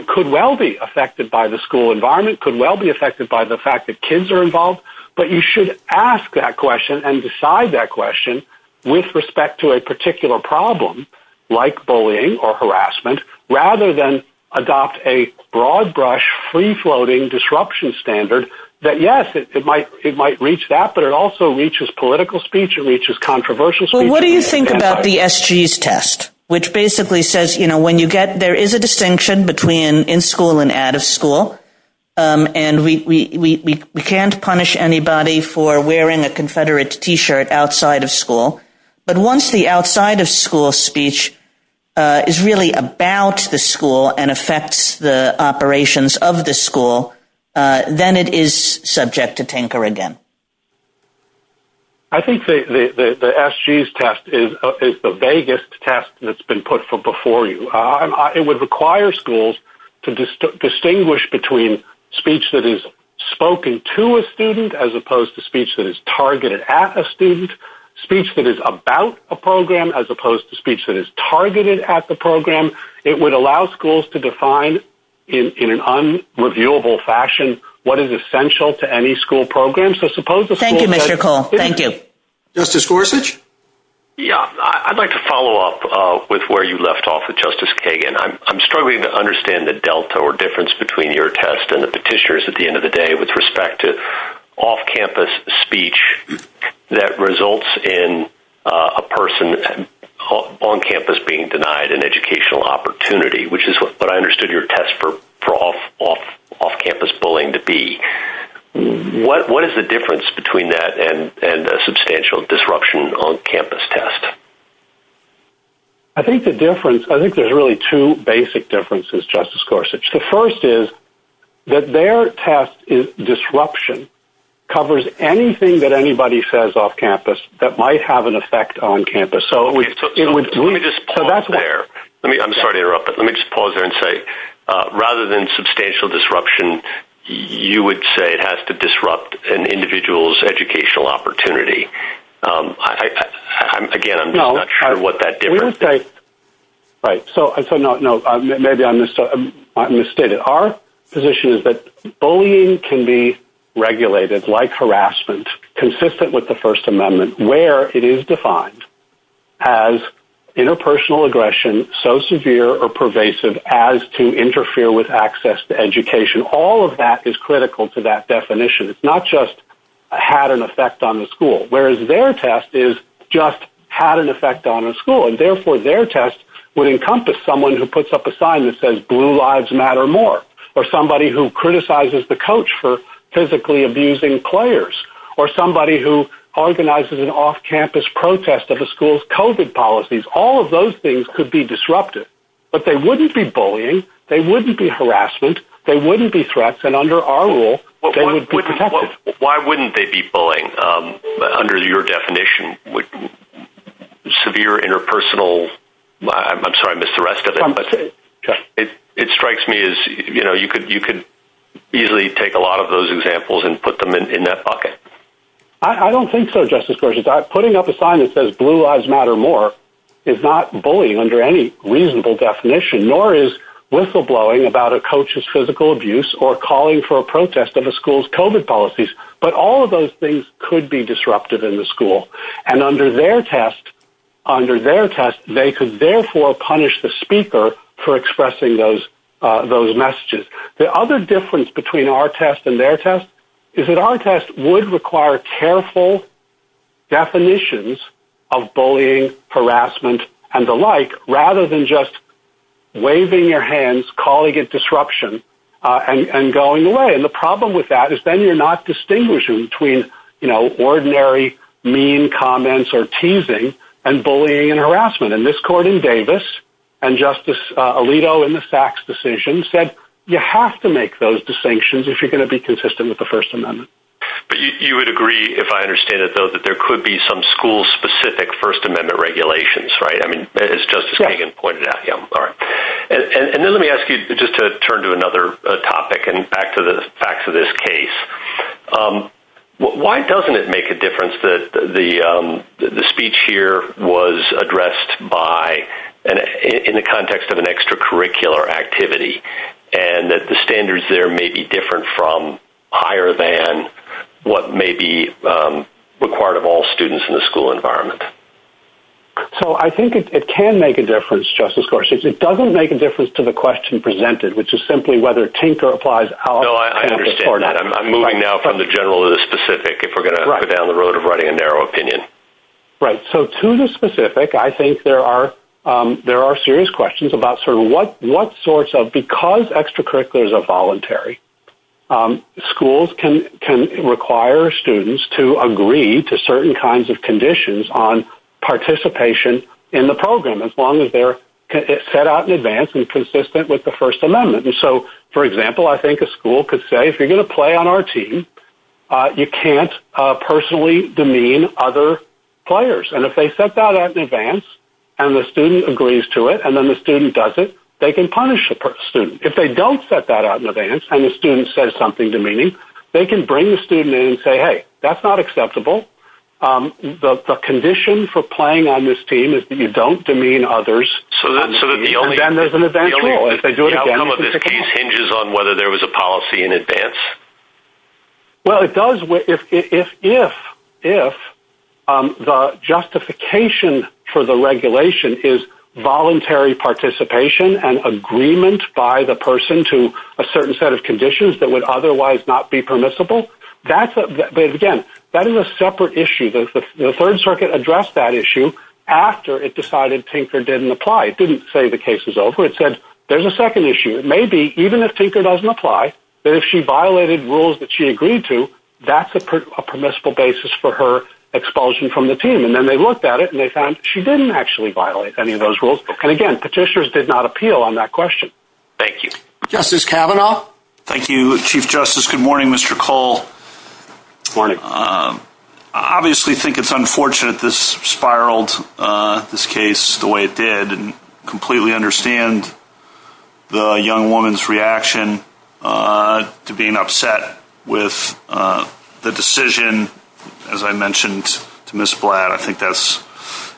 could well be affected by the school environment, could well be affected by the fact that kids are involved, but you should ask that question and decide that question with respect to a particular problem like bullying or harassment rather than adopt a broad-brush, free-floating disruption standard that, yes, it might reach that, but it also reaches political speech, it reaches controversial speech. What do you think about the SG's test, which basically says there is a distinction between in school and out of school, and we can't punish anybody for wearing a Confederate T-shirt outside of school, but once the outside-of-school speech is really about the school and affects the operations of the school, then it is subject to tinker again. I think the SG's test is the vaguest test that's been put before you. It would require schools to distinguish between speech that is spoken to a student as opposed to speech that is targeted at a student, speech that is about a program as opposed to speech that is targeted at the program. It would allow schools to define in an unreviewable fashion what is essential to any school program. Thank you, Mr. Cole. Thank you. Justice Gorsuch? Yeah, I'd like to follow up with where you left off with Justice Kagan. I'm struggling to understand the delta or difference between your test and the petitioner's at the end of the day with respect to off-campus speech that results in a person on campus being denied an educational opportunity, which is what I understood your test for off-campus bullying to be. What is the difference between that and a substantial disruption on-campus test? I think there's really two basic differences, Justice Gorsuch. The first is that their test disruption covers anything that anybody says off-campus that might have an effect on campus. Let me just pause there. I'm sorry to interrupt, but let me just pause there and say, rather than substantial disruption, you would say it has to disrupt an individual's educational opportunity. Again, I'm not sure what that difference is. Right, so maybe I misstated. Our position is that bullying can be regulated, like harassment, consistent with the First Amendment, where it is defined as interpersonal aggression so severe or pervasive as to interfere with access to education. All of that is critical to that definition. It's not just had an effect on the school, whereas their test is just had an effect on a school. Therefore, their test would encompass someone who puts up a sign that says, Blue Lives Matter More, or somebody who criticizes the coach for physically abusing players, or somebody who organizes an off-campus protest of a school's COVID policies. All of those things could be disruptive, but they wouldn't be bullying. They wouldn't be harassment. They wouldn't be threats, and under our rule, they would be protected. Why wouldn't they be bullying under your definition? Severe interpersonal, I'm sorry, I missed the rest of it. It strikes me as you could easily take a lot of those examples and put them in that bucket. I don't think so, Justice Gorsuch. Putting up a sign that says, Blue Lives Matter More is not bullying under any reasonable definition, nor is whistleblowing about a coach's physical abuse or calling for a protest of a school's COVID policies. But all of those things could be disruptive in the school, and under their test, they could therefore punish the speaker for expressing those messages. The other difference between our test and their test is that our test would require careful definitions of bullying, harassment, and the like, rather than just waving your hands, calling it disruption, and going away. And the problem with that is then you're not distinguishing between ordinary mean comments or teasing and bullying and harassment. And this court in Davis, and Justice Alito in the Sachs decision, said you have to make those distinctions if you're going to be consistent with the First Amendment. But you would agree, if I understand it, though, that there could be some school-specific First Amendment regulations, right? I mean, as Justice Kagan pointed out. And then let me ask you just to turn to another topic and back to this case. Why doesn't it make a difference that the speech here was addressed in the context of an extracurricular activity, and that the standards there may be different from, higher than, what may be required of all students in the school environment? So, I think it can make a difference, Justice Gorsuch. It doesn't make a difference to the question presented, which is simply whether Tinker applies out of context or not. No, I understand that. I'm moving now from the general to the specific, if we're going to go down the road of writing a narrow opinion. Right. So, to the specific, I think there are serious questions about sort of what sorts of, because extracurriculars are voluntary, schools can require students to agree to certain kinds of conditions on participation in the program, as long as they're set out in advance and consistent with the First Amendment. And so, for example, I think a school could say, if you're going to play on our team, you can't personally demean other players. And if they set that out in advance, and the student agrees to it, and then the student doesn't, they can punish the student. If they don't set that out in advance, and the student says something demeaning, they can bring the student in and say, hey, that's not acceptable. The condition for playing on this team is that you don't demean others. And then there's an eventual. How relevant is this? Hinges on whether there was a policy in advance? Well, it does, if the justification for the regulation is voluntary participation and agreement by the person to a certain set of conditions that would otherwise not be permissible, that's, again, that is a separate issue. The Third Circuit addressed that issue after it decided Tinker didn't apply. It didn't say the case was over. It said, there's a second issue. It may be, even if Tinker doesn't apply, that if she violated rules that she agreed to, that's a permissible basis for her expulsion from the team. And then they looked at it, and they found she didn't actually violate any of those rules. And, again, petitioners did not appeal on that question. Thank you. Justice Kavanaugh? Thank you, Chief Justice. Good morning, Mr. Cole. Good morning. I obviously think it's unfortunate this spiraled, this case, the way it did, and completely understand the young woman's reaction to being upset with the decision, as I mentioned, to Ms. Blatt. I think that's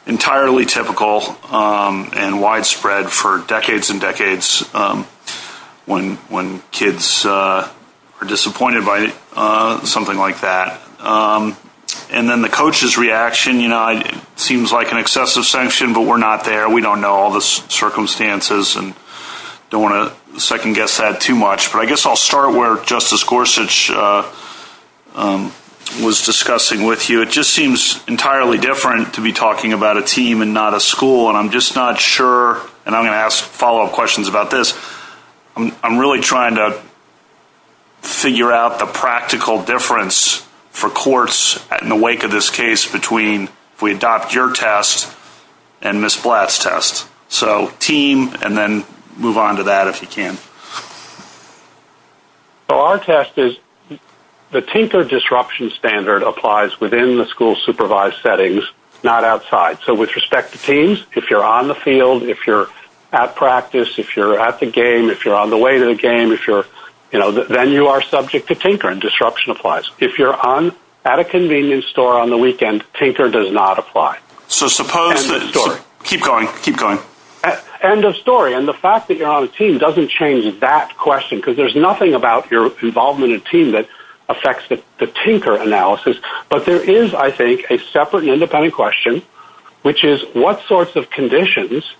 entirely typical and widespread for decades and decades when kids are disappointed by something like that. And then the coach's reaction, you know, seems like an excessive sanction, but we're not there. We don't know all the circumstances and don't want to second-guess that too much. But I guess I'll start where Justice Gorsuch was discussing with you. It just seems entirely different to be talking about a team and not a school, and I'm just not sure, and I'm going to ask follow-up questions about this. I'm really trying to figure out the practical difference for courts in the wake of this case between if we adopt your test and Ms. Blatt's test. So team, and then move on to that if you can. So our test is the tinker disruption standard applies within the school's supervised settings, not outside. So with respect to teams, if you're on the field, if you're at practice, if you're at the game, if you're on the way to the game, if you're, you know, then you are subject to tinker. Disruption applies. If you're at a convenience store on the weekend, tinker does not apply. End of story. Keep going, keep going. End of story. And the fact that you're on a team doesn't change that question, because there's nothing about your involvement in a team that affects the tinker analysis. But there is, I think, a separate and independent question, which is what sorts of conditions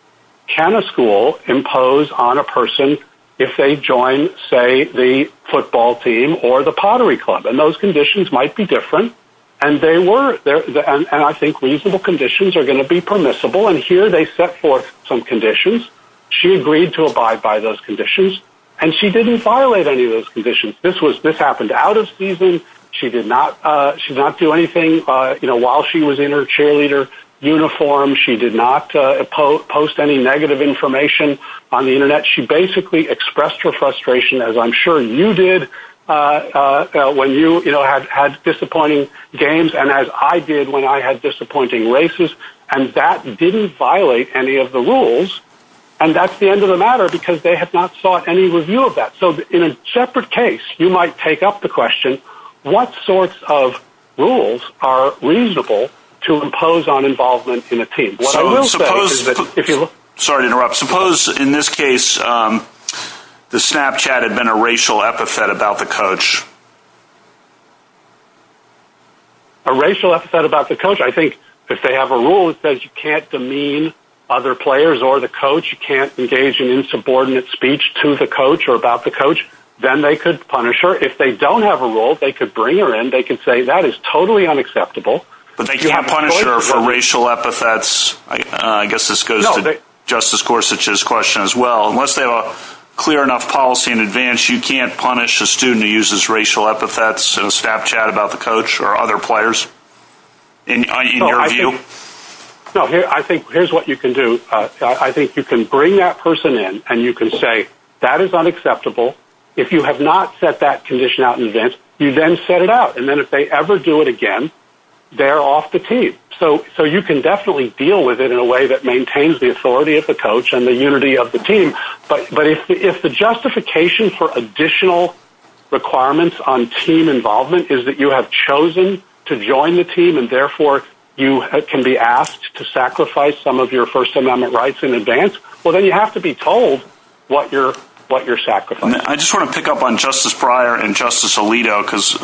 can a school impose on a person if they join, say, the football team or the pottery club? And those conditions might be different, and they were, and I think reasonable conditions are going to be permissible. And here they set forth some conditions. She agreed to abide by those conditions, and she didn't violate any of those conditions. This happened out of season. She did not do anything, you know, while she was in her cheerleader uniform. She did not post any negative information on the Internet. She basically expressed her frustration, as I'm sure you did when you, you know, had disappointing games, and as I did when I had disappointing races. And that didn't violate any of the rules, and that's the end of the matter, because they have not sought any review of that. So, in a separate case, you might take up the question, what sorts of rules are reasonable to impose on involvement in a team? What I will say is that if you look... Sorry to interrupt. Suppose, in this case, the Snapchat had been a racial epithet about the coach. A racial epithet about the coach? I think if they have a rule that says you can't demean other players or the coach, you can't engage in insubordinate speech to the coach or about the coach, then they could punish her. If they don't have a rule, they could bring her in. They could say, that is totally unacceptable. But they can't punish her for racial epithets. I guess this goes to Justice Gorsuch's question as well. Unless they have a clear enough policy in advance, you can't punish a student who uses racial epithets in a Snapchat about the coach or other players? In your view? No, I think here's what you can do. I think you can bring that person in, and you can say, that is unacceptable. If you have not set that condition out in advance, you then set it out. And then if they ever do it again, they're off the team. So you can definitely deal with it in a way that maintains the authority of the coach and the unity of the team. But if the justification for additional requirements on team involvement is that you have chosen to join the team, and therefore you can be asked to sacrifice some of your First Amendment rights in advance, well, then you have to be told what your sacrifice is. I just want to pick up on Justice Breyer and Justice Alito, because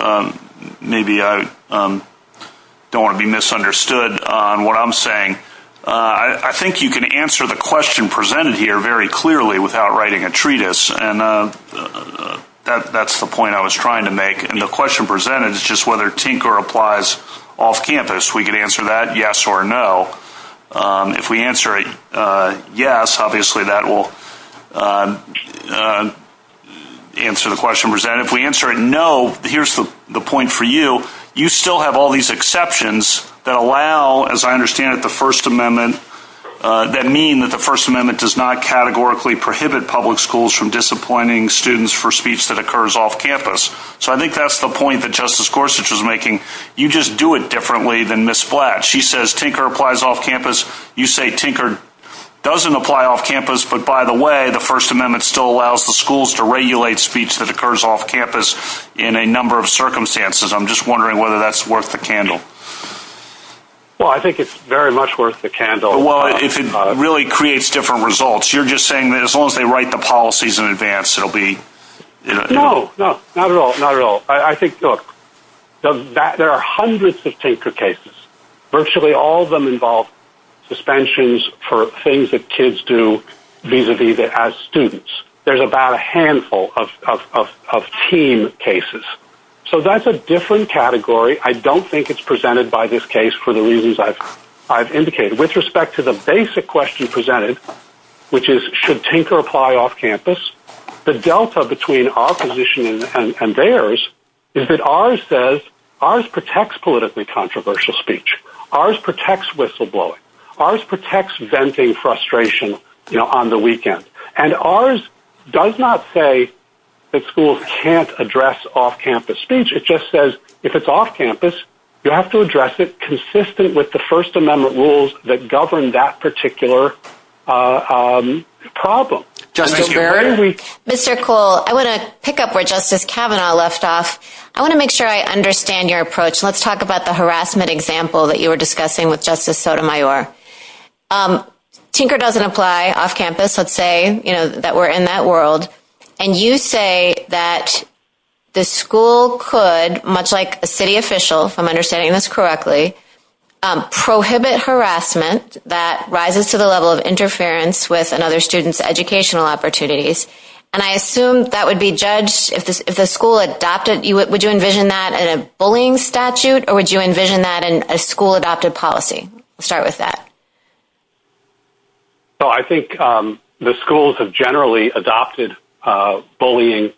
maybe I don't want to be misunderstood on what I'm saying. I think you can answer the question presented here very clearly without writing a treatise. And that's the point I was trying to make. And the question presented is just whether Tinker applies off campus. We can answer that yes or no. If we answer a yes, obviously that will answer the question presented. If we answer a no, here's the point for you. You still have all these exceptions that allow, as I understand it, the First Amendment, that mean that the First Amendment does not categorically prohibit public schools from disappointing students for speech that occurs off campus. So I think that's the point that Justice Gorsuch is making. You just do it differently than Ms. Blatt. She says Tinker applies off campus. You say Tinker doesn't apply off campus. But, by the way, the First Amendment still allows the schools to regulate speech that occurs off campus in a number of circumstances. I'm just wondering whether that's worth the candle. Well, I think it's very much worth the candle. Well, if it really creates different results. You're just saying that as long as they write the policies in advance, it will be... No, no, not at all, not at all. I think, look, there are hundreds of Tinker cases. Virtually all of them involve suspensions for things that kids do vis-a-vis as students. There's about a handful of teen cases. So that's a different category. I don't think it's presented by this case for the reasons I've indicated. With respect to the basic question presented, which is should Tinker apply off campus, the delta between our position and theirs is that ours says ours protects politically controversial speech. Ours protects whistleblowing. Ours protects venting frustration on the weekend. And ours does not say that schools can't address off campus speech. It just says if it's off campus, you have to address it consistent with the First Amendment rules that govern that particular problem. Mr. Cole, I want to pick up where Justice Kavanaugh left off. I want to make sure I understand your approach. Let's talk about the harassment example that you were discussing with Justice Sotomayor. Tinker doesn't apply off campus. Let's say that we're in that world. And you say that the school could, much like a city official, if I'm understanding this correctly, prohibit harassment that rises to the level of interference with another student's educational opportunities. And I assume that would be judged if the school adopted. Would you envision that in a bullying statute, or would you envision that in a school-adopted policy? I'll start with that. I think the schools have generally adopted bullying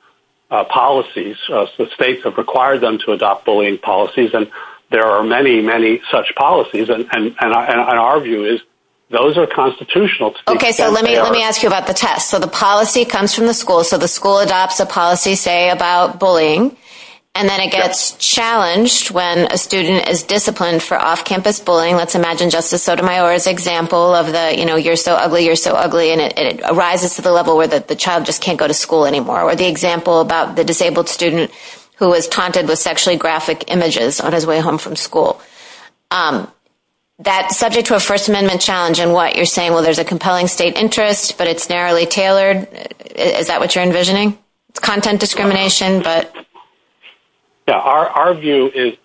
policies. The states have required them to adopt bullying policies. And there are many, many such policies. And our view is those are constitutional. Okay, so let me ask you about the test. So the policy comes from the school. So the school adopts a policy, say, about bullying. And then it gets challenged when a student is disciplined for off campus bullying. Let's imagine Justice Sotomayor's example of the, you know, you're so ugly, you're so ugly. And it rises to the level where the child just can't go to school anymore. Or the example about the disabled student who was taunted with sexually graphic images on his way home from school. That's subject to a First Amendment challenge in what you're saying. Well, there's a compelling state interest, but it's narrowly tailored. Is that what you're envisioning? Content discrimination? Our view is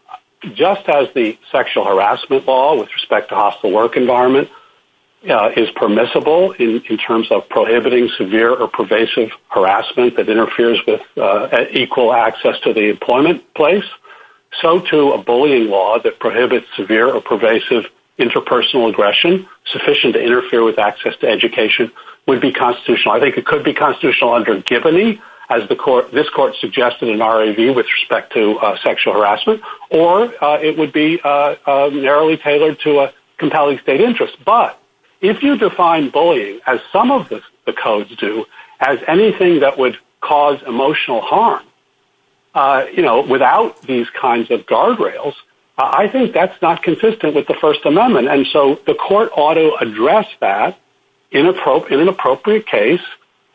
just as the sexual harassment law with respect to hostile work environment is permissible in terms of prohibiting severe or pervasive harassment that interferes with equal access to the employment place, so too a bullying law that prohibits severe or pervasive interpersonal aggression sufficient to interfere with access to education would be constitutional. I think it could be constitutional under Giboney, as this court suggested in our review with respect to sexual harassment. Or it would be narrowly tailored to a compelling state interest. But if you define bullying as some of the codes do, as anything that would cause emotional harm, you know, without these kinds of guardrails, I think that's not consistent with the First Amendment. And so the court ought to address that in an appropriate case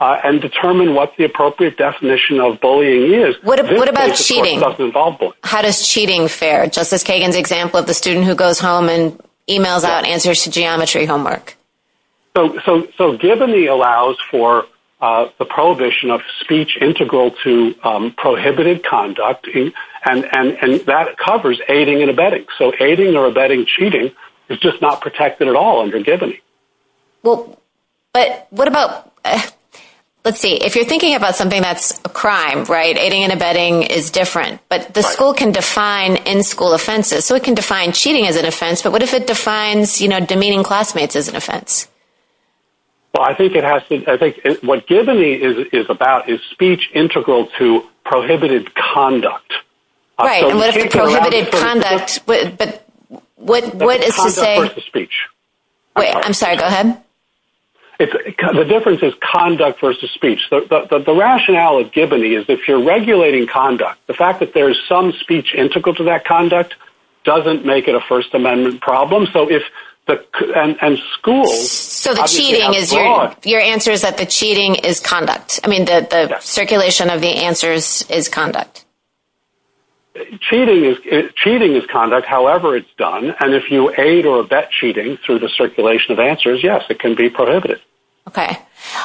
and determine what the appropriate definition of bullying is. What about cheating? How does cheating fare? Justice Kagan's example of the student who goes home and emails out answers to geometry homework. So Giboney allows for the prohibition of speech integral to prohibited conduct, and that covers aiding and abetting. So aiding or abetting cheating is just not protected at all under Giboney. But what about, let's see, if you're thinking about something that's a crime, right, aiding and abetting is different. But the school can define in-school offenses. So it can define cheating as an offense. But what if it defines, you know, demeaning classmates as an offense? Well, I think it has to – I think what Giboney is about is speech integral to prohibited conduct. Right, unless it's prohibited conduct, but what is it saying? Conduct versus speech. Wait, I'm sorry, go ahead. The difference is conduct versus speech. The rationale of Giboney is if you're regulating conduct, the fact that there's some speech integral to that conduct doesn't make it a First Amendment problem. So if – and schools – So the cheating is – your answer is that the cheating is conduct. I mean, the circulation of the answers is conduct. Cheating is conduct, however it's done. And if you aid or abet cheating through the circulation of answers, yes, it can be prohibited. Okay.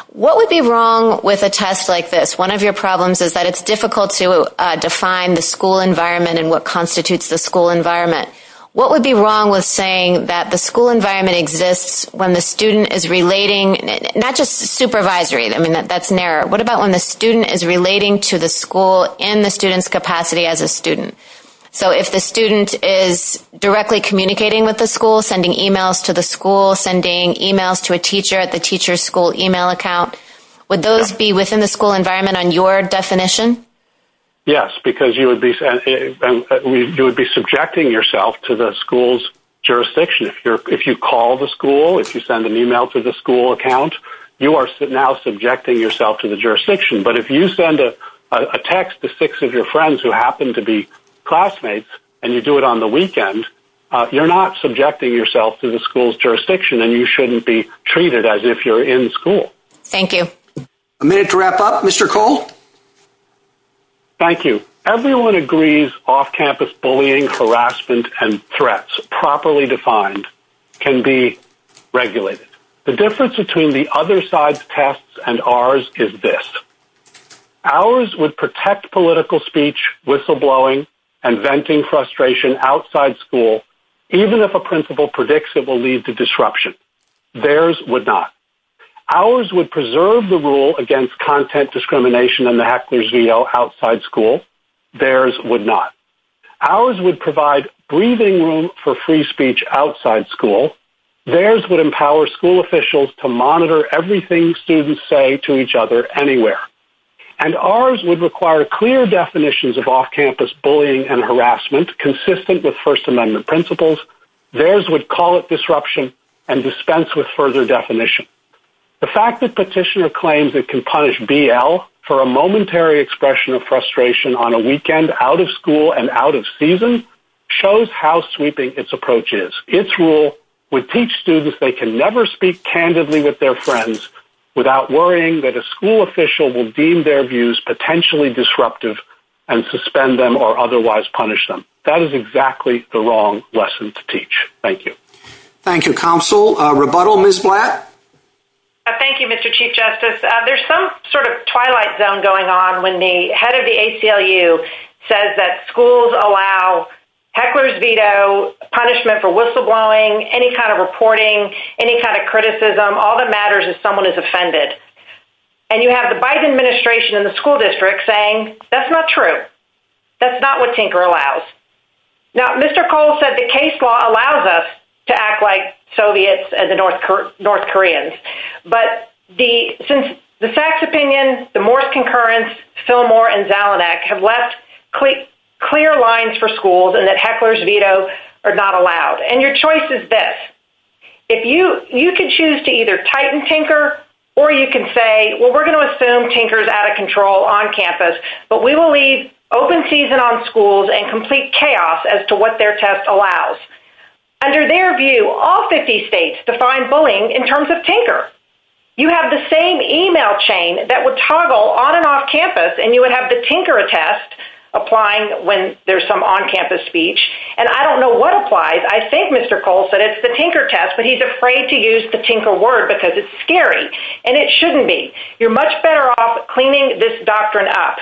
What would be wrong with a test like this? One of your problems is that it's difficult to define the school environment and what constitutes the school environment. What would be wrong with saying that the school environment exists when the student is relating – not just supervisory. I mean, that's an error. What about when the student is relating to the school in the student's capacity as a student? So if the student is directly communicating with the school, sending e-mails to the school, sending e-mails to a teacher at the teacher's school e-mail account, would those be within the school environment on your definition? Yes, because you would be subjecting yourself to the school's jurisdiction. If you call the school, if you send an e-mail to the school account, you are now subjecting yourself to the jurisdiction. But if you send a text to six of your friends who happen to be classmates and you do it on the weekend, you're not subjecting yourself to the school's jurisdiction and you shouldn't be treated as if you're in school. Thank you. A minute to wrap up. Mr. Cole? Thank you. Everyone agrees off-campus bullying, harassment, and threats, properly defined, can be regulated. The difference between the other side's tests and ours is this. Ours would protect political speech, whistleblowing, and venting frustration outside school, even if a principal predicts it will lead to disruption. Theirs would not. Ours would preserve the rule against content discrimination in the Heckler-Zeto outside school. Theirs would not. Ours would provide breathing room for free speech outside school. Theirs would empower school officials to monitor everything students say to each other anywhere. And ours would require clear definitions of off-campus bullying and harassment consistent with First Amendment principles. Theirs would call it disruption and dispense with further definition. The fact that Petitioner claims it can punish BL for a momentary expression of frustration on a weekend out of school and out of season shows how sweeping its approach is. Its rule would teach students they can never speak candidly with their friends without worrying that a school official will deem their views potentially disruptive and suspend them or otherwise punish them. That is exactly the wrong lesson to teach. Thank you. Thank you, Counsel. Rebuttal, Ms. Blatt? Thank you, Mr. Chief Justice. There's some sort of twilight zone going on when the head of the ACLU says that schools allow Heckler-Zeto punishment for whistleblowing, any kind of reporting, any kind of criticism, all that matters if someone is offended. And you have the Biden administration in the school district saying that's not true. That's not what Tinker allows. Now, Mr. Cole said the case law allows us to act like Soviets and the North Koreans. But since the Sachs opinion, the Morse concurrence, Fillmore, and Zalanek have left clear lines for schools and that Heckler-Zeto are not allowed. And your choice is this. You can choose to either tighten Tinker or you can say, well, we're going to assume Tinker is out of control on campus, but we will leave open season on schools and complete chaos as to what their test allows. Under their view, all 50 states define bullying in terms of Tinker. You have the same email chain that would toggle on and off campus and you would have the Tinker test applying when there's some on-campus speech. And I don't know what applies. I think Mr. Cole said it's the Tinker test, but he's afraid to use the Tinker word because it's scary. And it shouldn't be. You're much better off cleaning this doctrine up.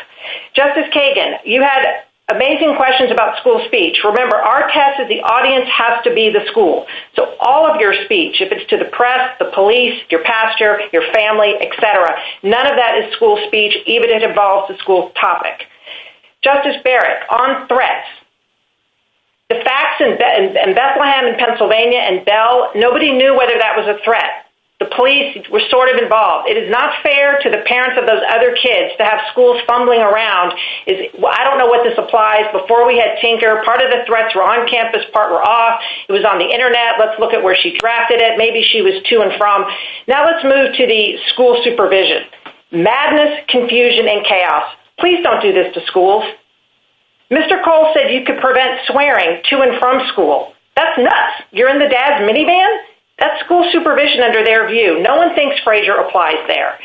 Justice Kagan, you had amazing questions about school speech. Remember, our test is the audience has to be the school. So all of your speech, if it's to the press, the police, your pastor, your family, et cetera, none of that is school speech, even if it involves the school topic. Justice Barrett, on threats, the facts in Bethlehem and Pennsylvania and Bell, nobody knew whether that was a threat. The police were sort of involved. It is not fair to the parents of those other kids to have schools fumbling around. I don't know what this applies. Before we had Tinker, part of the threats were on campus, part were off. It was on the Internet. Let's look at where she drafted it. Maybe she was to and from. Now let's move to the school supervision. Madness, confusion, and chaos. Please don't do this to schools. Mr. Cole said you could prevent swearing to and from school. That's nuts. You're in the dad's minivan? That's school supervision under their view. No one thinks Frazier applies there.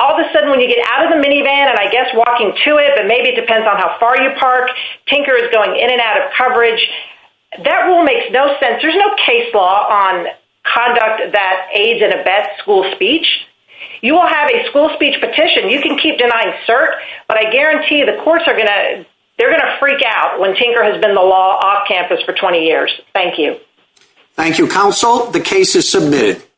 All of a sudden when you get out of the minivan and I guess walking to it, but maybe it depends on how far you park, Tinker is going in and out of coverage, that rule makes no sense. There's no case law on conduct that aids and abets school speech. You will have a school speech petition. You can keep denying cert, but I guarantee you the courts are going to freak out when Tinker has been the law off campus for 20 years. Thank you. Thank you, counsel. The case is submitted.